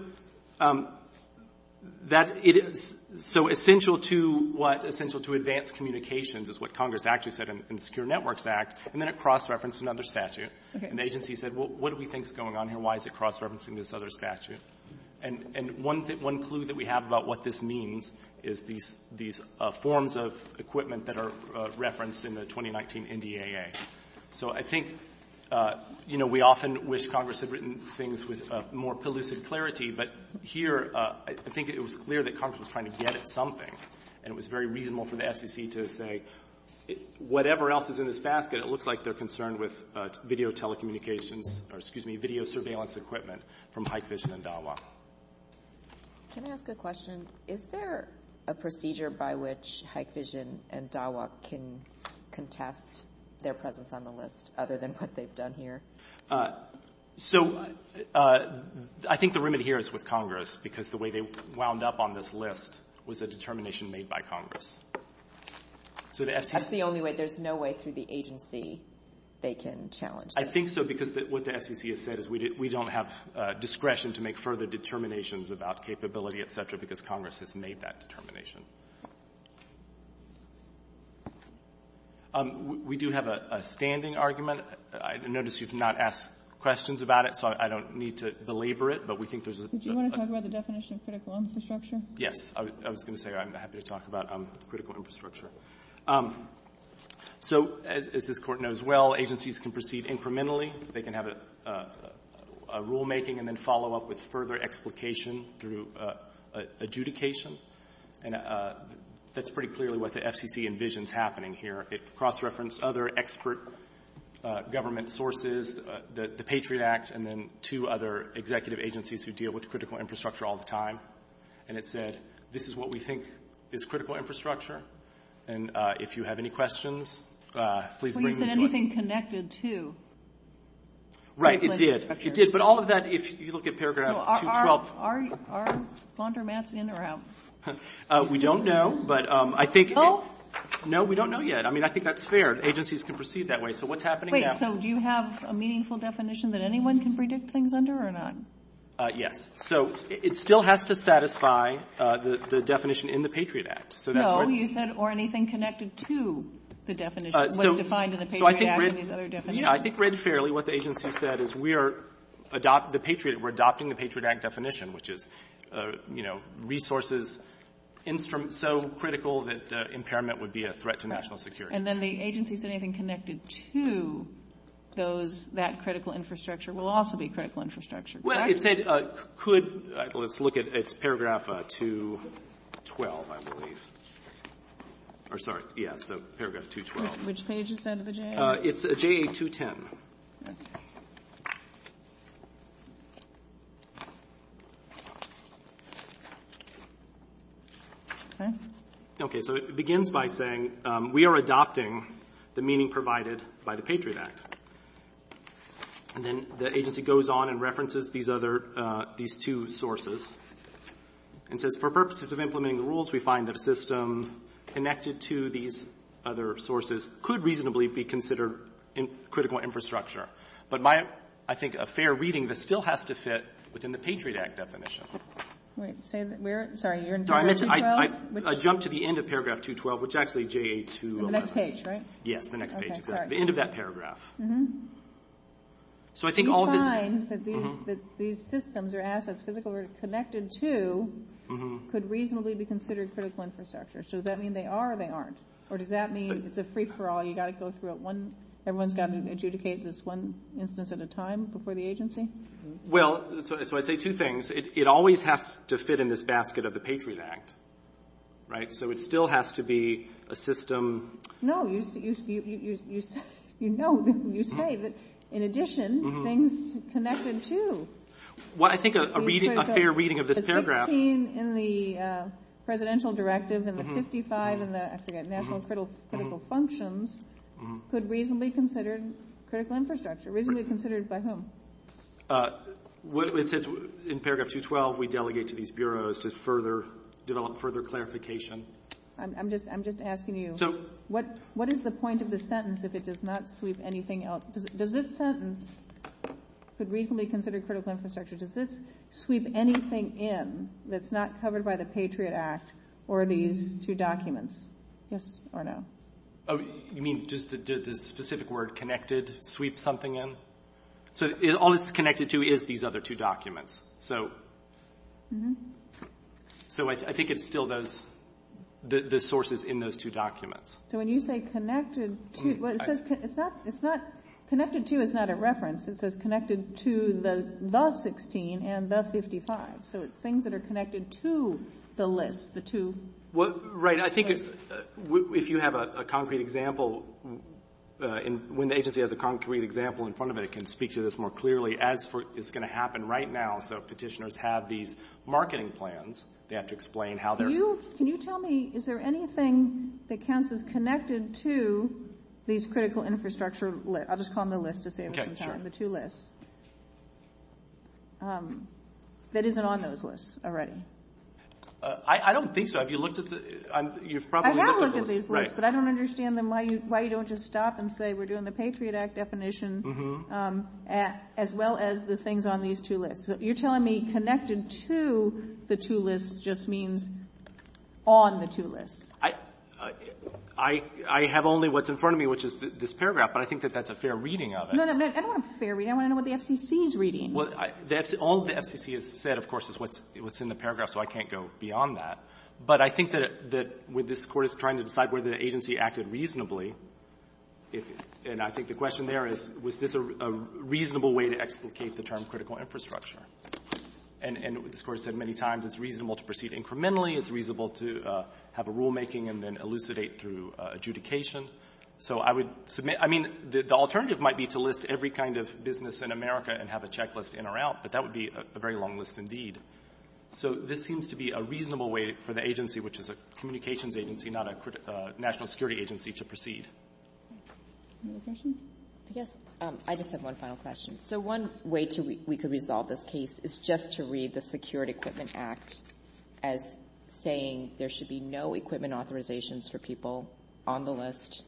essential to what? Essential to advanced communications is what Congress actually said in the Secure Networks Act, and then it cross-referenced another statute. Okay. And the agency said, well, what do we think is going on here? Why is it cross-referencing this other statute? And one clue that we have about what this means is these forms of equipment that are referenced in the 2019 NDAA. So I think, you know, we often wish Congress had written things with more pellucid clarity, but here I think it was clear that Congress was trying to get at something, and it was very reasonable for the SEC to say whatever else is in this basket, but it looks like they're concerned with video telecommunications or, excuse me, video surveillance equipment from HikVision and Dialog. Can I ask a question? Is there a procedure by which HikVision and Dialog can contest their presence on the list, other than what they've done here? So I think the room adheres with Congress because the way they wound up on this list was a determination made by Congress. That's the only way. There's no way through the agency they can challenge that. I think so, because what the SEC has said is we don't have discretion to make further determinations about capability, et cetera, because Congress has made that determination. We do have a standing argument. I notice you've not asked questions about it, so I don't need to belabor it, but we think there's a... Did you want to talk about the definition of critical infrastructure? Yes. I was going to say I'm happy to talk about critical infrastructure. So, as this Court knows well, agencies can proceed incrementally. They can have a rulemaking and then follow up with further explication through adjudication, and that's pretty clearly what the FCC envisions happening here. It cross-referenced other expert government sources, the Patriot Act, and then two other executive agencies who deal with critical infrastructure all the time, and it said this is what we think is critical infrastructure, and if you have any questions, please bring them to us. So you said anything connected to... Right, it did. It did, but all of that, if you look at Paragraph 212... Are laundromats in or out? We don't know, but I think... No? No, we don't know yet. I mean, I think that's fair. Agencies can proceed that way. So what's happening now... Great. So do you have a meaningful definition that anyone can predict things under or not? Yes. So it still has to satisfy the definition in the Patriot Act. So that's what... No, you said, or anything connected to the definition, what's defined in the Patriot Act and the other definitions. Yeah, I think read fairly what the agency said is we are adopting the Patriot Act definition, which is, you know, resources so critical that impairment would be a threat to national security. And then the agency said anything connected to that critical infrastructure will also be critical infrastructure. Well, it said, could... Let's look at Paragraph 212, I believe. Or, sorry, yeah, so Paragraph 212. Which page is that of a JA? It's JA 210. Okay. Okay, so it begins by saying we are adopting the meaning provided by the Patriot Act. And then the agency goes on and references these other, these two sources. And says, for purposes of implementing the rules, we find that a system connected to these other sources could reasonably be considered critical infrastructure. But my, I think, a fair reading, this still has to fit within the Patriot Act definition. Wait, say that we're, sorry, you're in Paragraph 212? I jumped to the end of Paragraph 212, which is actually JA 210. The next page, right? The end of that paragraph. So I think all the... We find that these systems or assets, physical or connected to, could reasonably be considered critical infrastructure. So does that mean they are or they aren't? Or does that mean it's a free-for-all, you've got to go through it one, everyone's got to adjudicate this one instance at a time before the agency? Well, so I'd say two things. It always has to fit in this basket of the Patriot Act, right? So it still has to be a system... No, you know this when you say it, but in addition, things connected to. Well, I think a reading, a fair reading of this paragraph... The 16 in the Presidential Directive and the 55 in the, I forget, National Critical Functions, could reasonably be considered critical infrastructure. Reasonably considered by whom? In Paragraph 212, we delegate to these bureaus to further develop further clarification. I'm just asking you, what is the point of the sentence if it does not sweep anything else? Does this sentence, could reasonably be considered critical infrastructure, does this sweep anything in that's not covered by the Patriot Act or these two documents? Yes or no? Oh, you mean does the specific word connected sweep something in? So all it's connected to is these other two documents. So I think it still does, the sources in those two documents. So when you say connected to, it's not, connected to is not a reference. It says connected to the 16 and the 55. So it's things that are connected to the list, the two... Right, I think if you have a concrete example, when the agency has a concrete example in front of it, it can speak to this more clearly, as it's going to happen right now. So if petitioners have these marketing plans, they have to explain how they're... Can you tell me, is there anything that counts as connected to these critical infrastructure lists? I'll just call them the lists, just so you understand, the two lists. That isn't on those lists already. I don't think so. Have you looked at the... I have looked at these lists, but I don't understand then why you don't just stop and say we're doing the Patriot Act definition as well as the things on these two lists. You're telling me connected to the two lists just means on the two lists. I have only what's in front of me, which is this paragraph, but I think that that's a fair reading of it. No, no, no, I don't want a fair reading. I want to know what the FCC is reading. All the FCC has said, of course, is what's in the paragraph, so I can't go beyond that. But I think that when this court is trying to decide whether the agency acted reasonably, and I think the question there is, was this a reasonable way to explicate the term critical infrastructure? And this court has said many times it's reasonable to proceed incrementally. It's reasonable to have a rulemaking and then elucidate through adjudication. I mean, the alternative might be to list every kind of business in America and have a checklist in or out, but that would be a very long list indeed. So this seems to be a reasonable way for the agency, which is a communications agency, not a national security agency, to proceed. Any other questions? Yes. I just have one final question. So one way we could resolve this case is just to read the Secured Equipment Act as saying there should be no equipment authorizations for people on the list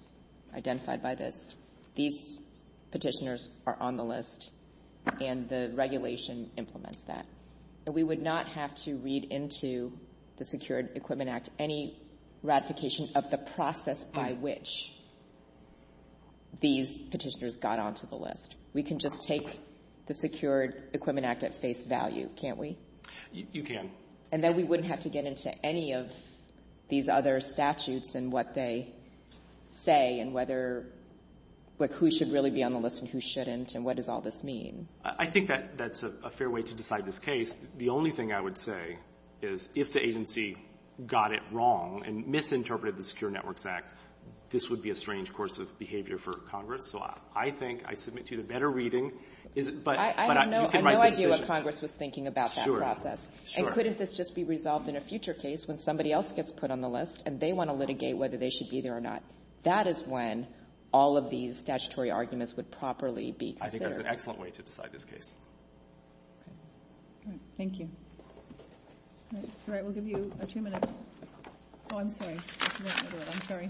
identified by this. These petitioners are on the list, and the regulation implements that. And we would not have to read into the Secured Equipment Act any ratification of the process by which these petitioners got onto the list. We can just take the Secured Equipment Act at face value, can't we? You can. And then we wouldn't have to get into any of these other statutes and what they say and whether, like, who should really be on the list and who shouldn't and what does all this mean? I think that's a fair way to decide this case. The only thing I would say is if the agency got it wrong and misinterpreted the Secured Networks Act, this would be a strange course of behavior for Congress. So I think I submit to you the better reading. I have no idea what Congress was thinking about that process. And couldn't this just be resolved in a future case when somebody else gets put on the list and they want to litigate whether they should be there or not? That is when all of these statutory arguments would properly be considered. I think that's an excellent way to decide this case. Thank you. All right, we'll give you two minutes. Oh, I'm sorry. I'm sorry.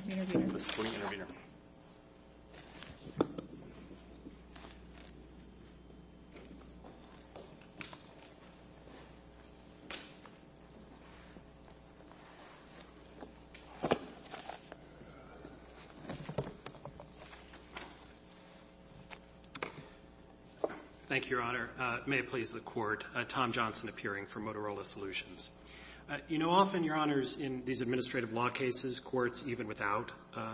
Thank you, Your Honor. It may please the Court. Tom Johnson appearing for Motorola Solutions. You know, often, Your Honors, in these administrative law cases, courts, even without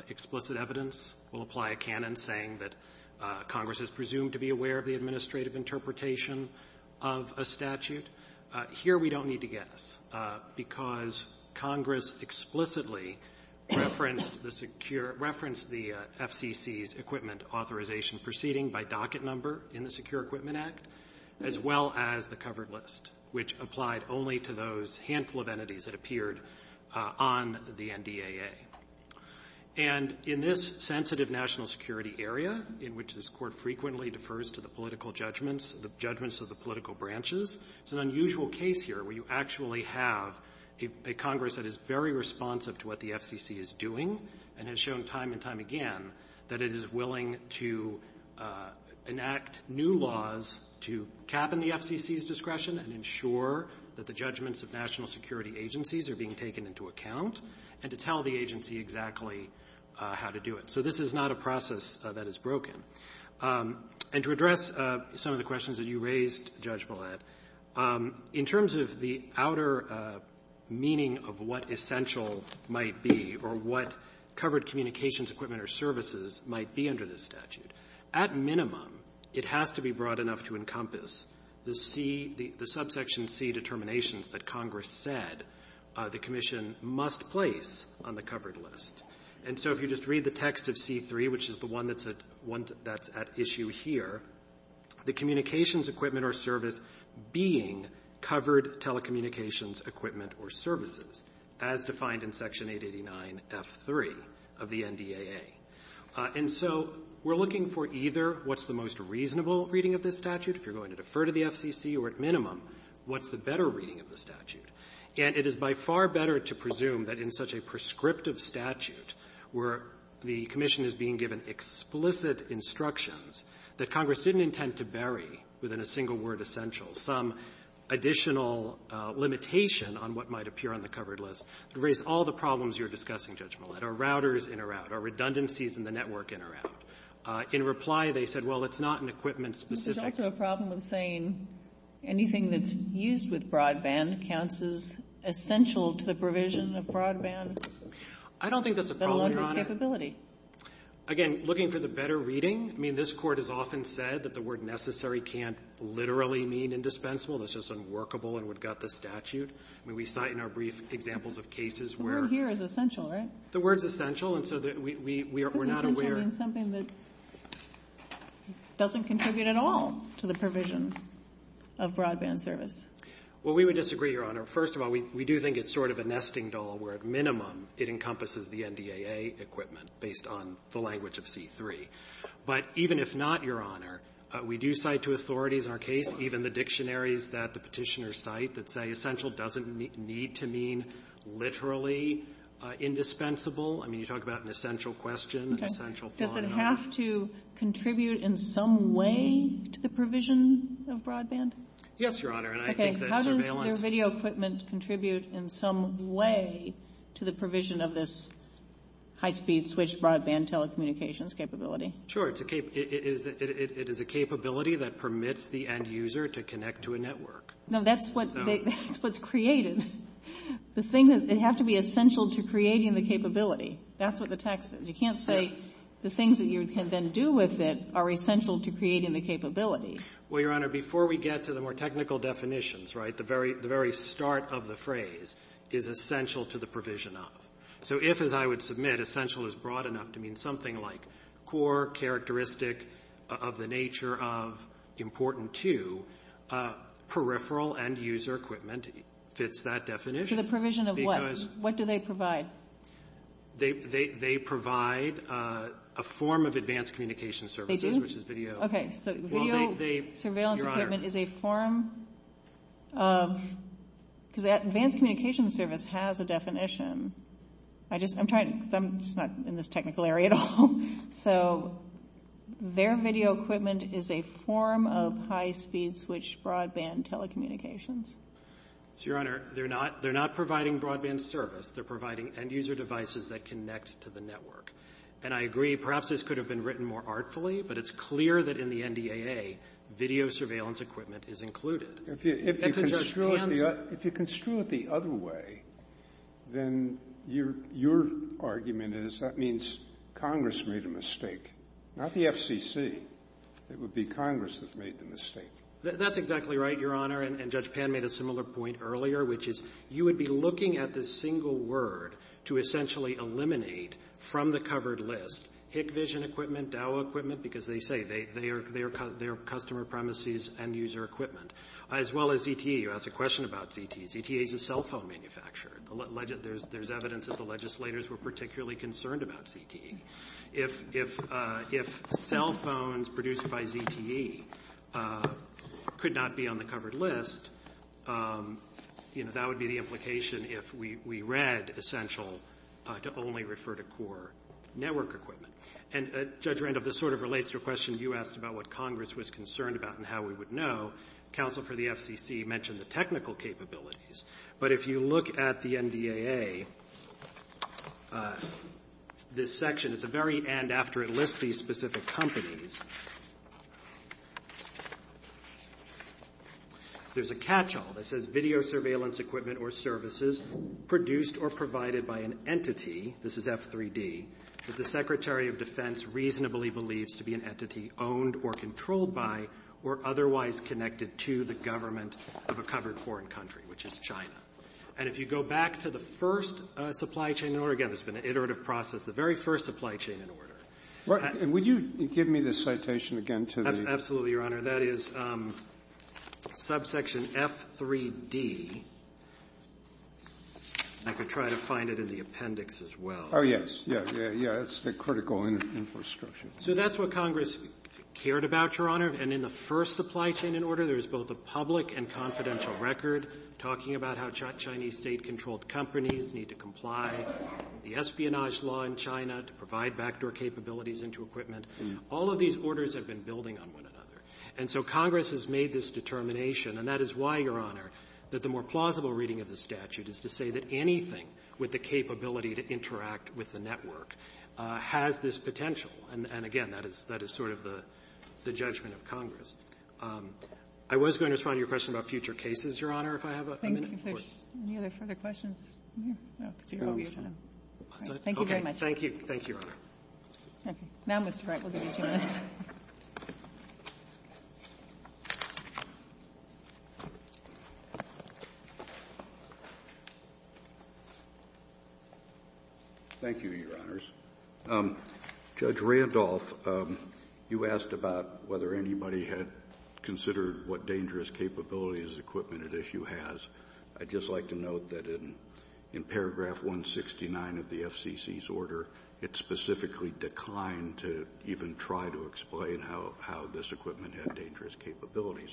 explicit evidence, will apply a canon saying that Congress is presumed to be aware of the administrative interpretation of a statute. Here we don't need to guess because Congress explicitly referenced the FCC's equipment authorization proceeding by docket number in the Secure Equipment Act, as well as the covered list, which applied only to those handful of entities that appeared on the NDAA. And in this sensitive national security area in which this Court frequently defers to the political judgments, the judgments of the political branches, it's an unusual case here where you actually have a Congress that is very responsive to what the FCC is doing and has shown time and time again that it is willing to enact new laws to cap in the FCC's discretion and ensure that the judgments of national security agencies are being taken into account and to tell the agency exactly how to do it. So this is not a process that is broken. And to address some of the questions that you raised, Judge Blatt, in terms of the outer meaning of what essential might be or what covered communications equipment or services might be under this statute, at minimum, it has to be broad enough to encompass the subsection C determinations that Congress said the Commission must place on the covered list. And so if you just read the text of C3, which is the one that's at issue here, the communications equipment or service being covered telecommunications equipment or services, as defined in Section 889F3 of the NDAA. And so we're looking for either what's the most reasonable reading of this statute, if you're going to defer to the FCC, or at minimum, what's the better reading of the statute. And it is by far better to presume that in such a prescriptive statute, where the Commission is being given explicit instructions that Congress didn't intend to bury within a single word essential, some additional limitation on what might appear on the covered list, to raise all the problems you're discussing, Judge Mullin. Are routers in or out? Are redundancies in the network in or out? In reply, they said, well, it's not an equipment specific. It's actually a problem of saying anything that's used with broadband counts as essential to the provision of broadband. I don't think that's a problem. Again, looking for the better reading. I mean, this Court has often said that the word necessary can't literally mean indispensable. It's just unworkable, and we've got the statute. I mean, we cite in our brief examples of cases where... The word here is essential, right? The word's essential, and so we're not aware... It doesn't contribute at all to the provision of broadband service. Well, we would disagree, Your Honor. First of all, we do think it's sort of a nesting doll where, at minimum, it encompasses the NDAA equipment based on the language of C-3. But even if not, Your Honor, we do cite to authorities in our case even the dictionaries that the petitioners cite that say essential doesn't need to mean literally indispensable. I mean, you talk about an essential question, an essential problem. Does that have to contribute in some way to the provision of broadband? Yes, Your Honor, and I think that surveillance... Okay, how does the video equipment contribute in some way to the provision of this high-speed switch broadband telecommunications capability? Sure, it is a capability that permits the end user to connect to a network. No, that's what's created. The thing is, it has to be essential to creating the capability. That's what the text is. You can't say the things that you can then do with it are essential to creating the capability. Well, Your Honor, before we get to the more technical definitions, right, the very start of the phrase is essential to the provision of. So if, as I would submit, essential is broad enough to mean something like core characteristic of the nature of, important to, peripheral end user equipment, it fits that definition. To the provision of what? Because... What do they provide? They provide a form of advanced communication services, which is video. They do? Okay, so video surveillance equipment is a form of... Because advanced communication service has a definition. I just, I'm trying to, I'm not in this technical area at all. So their video equipment is a form of high-speed switch broadband telecommunications. Your Honor, they're not providing broadband service. They're providing end user devices that connect to the network. And I agree, perhaps this could have been written more artfully, but it's clear that in the NDAA, video surveillance equipment is included. If you construe it the other way, then your argument is that means Congress made a mistake, not the FCC. It would be Congress that made the mistake. That's exactly right, Your Honor. And Judge Pan made a similar point earlier, which is you would be looking at this single word to essentially eliminate from the covered list HIC vision equipment, DAO equipment, because they say they are customer premises end user equipment, as well as ZTE. You asked a question about ZTE. ZTE is a cell phone manufacturer. There's evidence that the legislators were particularly concerned about ZTE. If cell phones produced by ZTE could not be on the covered list, that would be the implication if we read essential to only refer to core network equipment. And Judge Randolph, this sort of relates to a question you asked about what Congress was concerned about and how we would know. Counsel for the FCC mentioned the technical capabilities. But if you look at the NDAA, this section at the very end after it lists these specific companies, there's a catch-all that says video surveillance equipment or services produced or provided by an entity, this is F3D, that the Secretary of Defense reasonably believes to be an entity owned or controlled by or otherwise connected to the government of a covered foreign country, which is China. And if you go back to the first supply chain order, again, it's been an iterative process, the very first supply chain order. Would you give me the citation again? Absolutely, Your Honor. That is subsection F3D. I could try to find it in the appendix as well. Oh, yes. Yeah, it's the critical infrastructure. So that's what Congress cared about, Your Honor. And in the first supply chain order, there was both a public and confidential record talking about how Chinese state-controlled companies need to comply, the espionage law in China to provide backdoor capabilities into equipment. All of these orders have been building on one another. And so Congress has made this determination, and that is why, Your Honor, that the more plausible reading of the statute is to say that anything with the capability to interact with the network has this potential. And, again, that is sort of the judgment of Congress. I was going to respond to your question about future cases, Your Honor, if I have a minute. If there's any other further questions, I'll see you all later. Thank you very much. Thank you. Thank you, Your Honor. Thank you, Your Honors. Judge Randolph, you asked about whether anybody had considered what dangerous capabilities equipment at issue has. I'd just like to note that in paragraph 169 of the FCC's order, it specifically declined to even try to explain how this equipment had dangerous capabilities.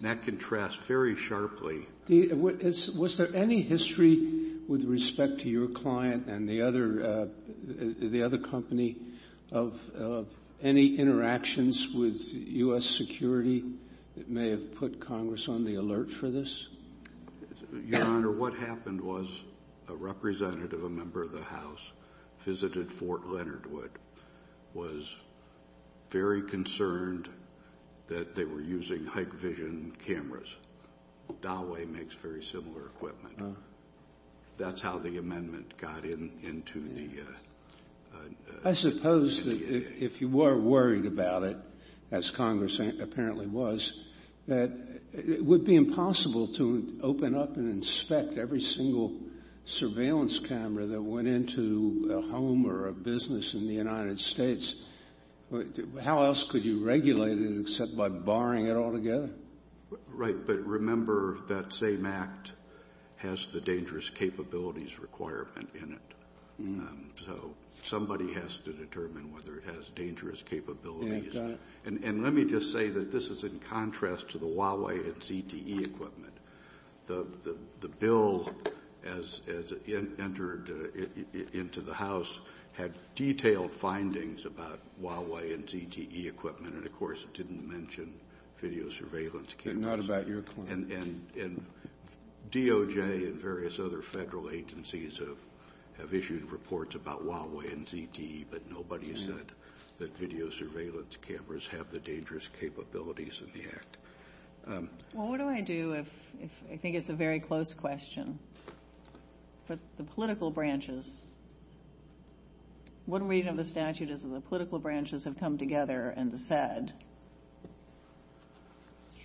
And that contrasts very sharply. Was there any history with respect to your client and the other company of any interactions with U.S. security that may have put Congress on the alert for this? Your Honor, what happened was a representative, a member of the House, visited Fort Leonard Wood, was very concerned that they were using Hikvision cameras. Dawei makes very similar equipment. That's how the amendment got into the… I suppose that if you were worried about it, as Congress apparently was, that it would be impossible to open up and inspect every single surveillance camera that went into a home or a business in the United States. How else could you regulate it except by barring it altogether? Right. But remember that SAMACT has the dangerous capabilities requirement in it. So somebody has to determine whether it has dangerous capabilities. Exactly. And let me just say that this is in contrast to the Huawei and CTE equipment. The bill, as it entered into the House, had detailed findings about Huawei and CTE equipment. And, of course, it didn't mention video surveillance cameras. Not about your client. And DOJ and various other federal agencies have issued reports about Huawei and CTE, but nobody has said that video surveillance cameras have the dangerous capabilities in the act. Well, what do I do if I think it's a very close question? For the political branches, one reason of the statute is that the political branches have come together and said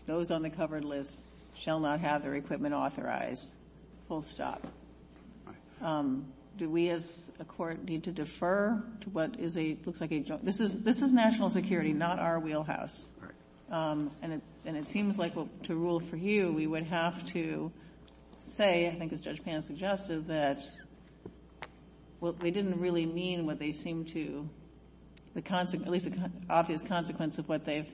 those on the covered list shall not have their equipment authorized. Full stop. Do we as a court need to defer to what is a… This is national security, not our wheelhouse. Right. Do we have to say, I think as Judge Pan has suggested, that they didn't really mean what they seem to… The obvious consequence of what they've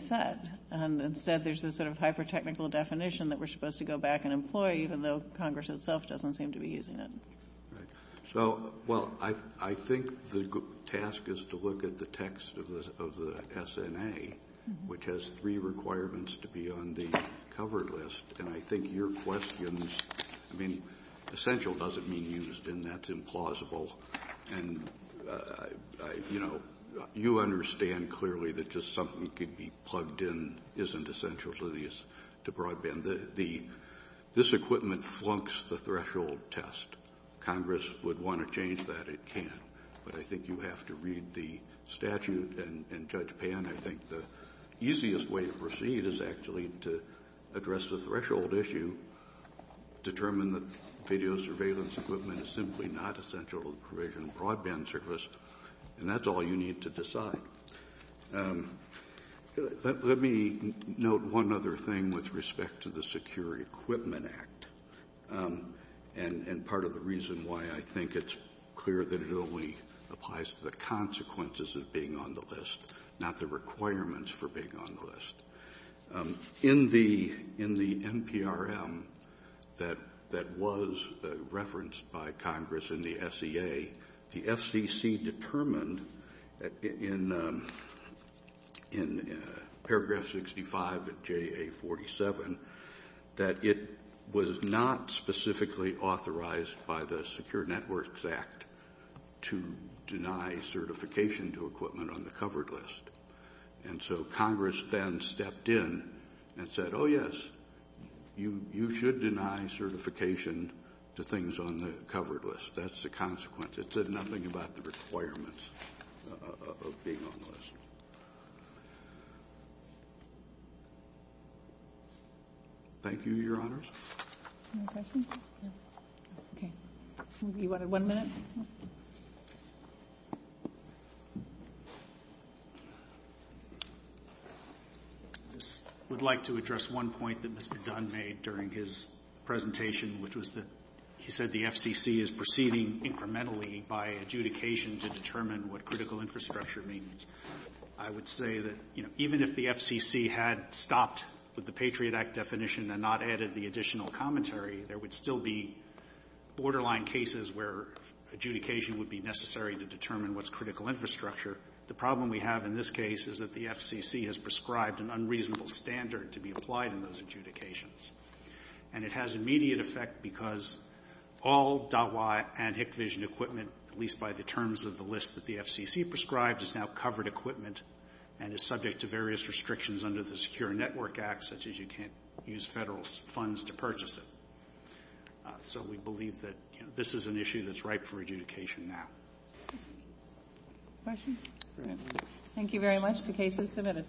said. Instead, there's this sort of hyper-technical definition that we're supposed to go back and employ, even though Congress itself doesn't seem to be using it. So, well, I think the task is to look at the text of the SNA, which has three requirements to be on the covered list. And I think your questions… I mean, essential doesn't mean used, and that's implausible. And, you know, you understand clearly that just something that could be plugged in isn't essential to broadband. This equipment flunks the threshold test. Congress would want to change that. It can't. But I think you have to read the statute, and Judge Pan, I think the easiest way to proceed is actually to address the threshold issue, determine that video surveillance equipment is simply not essential to provisional broadband service, and that's all you need to decide. Let me note one other thing with respect to the Secure Equipment Act, and part of the reason why I think it's clear that it only applies to the consequences of being on the list, not the requirements for being on the list. In the NPRM that was referenced by Congress in the SCA, the FCC determined in paragraph 65 of JA-47 that it was not specifically authorized by the Secure Networks Act to deny certification to equipment on the covered list. And so Congress then stepped in and said, oh, yes, you should deny certification to things on the covered list. That's the consequence. It said nothing about the requirements of being on the list. Thank you, Your Honors. Any questions? No. Okay. Do you want one minute? I would like to address one point that Mr. Dunn made during his presentation, which was that he said the FCC is proceeding incrementally by adjudication to determine what critical infrastructure means. I would say that even if the FCC had stopped with the Patriot Act definition and not added the additional commentary, there would still be borderline cases where adjudication would be necessary to determine what's critical infrastructure. The problem we have in this case is that the FCC has prescribed an unreasonable standard to be applied in those adjudications. And it has immediate effect because all DOTY and HIC vision equipment, at least by the terms of the list that the FCC prescribed, is now covered equipment and is subject to various restrictions under the Secure Network Act, such as you can't use federal funds to purchase it. So we believe that this is an issue that's ripe for adjudication now. Questions? No. Thank you very much. The case is submitted.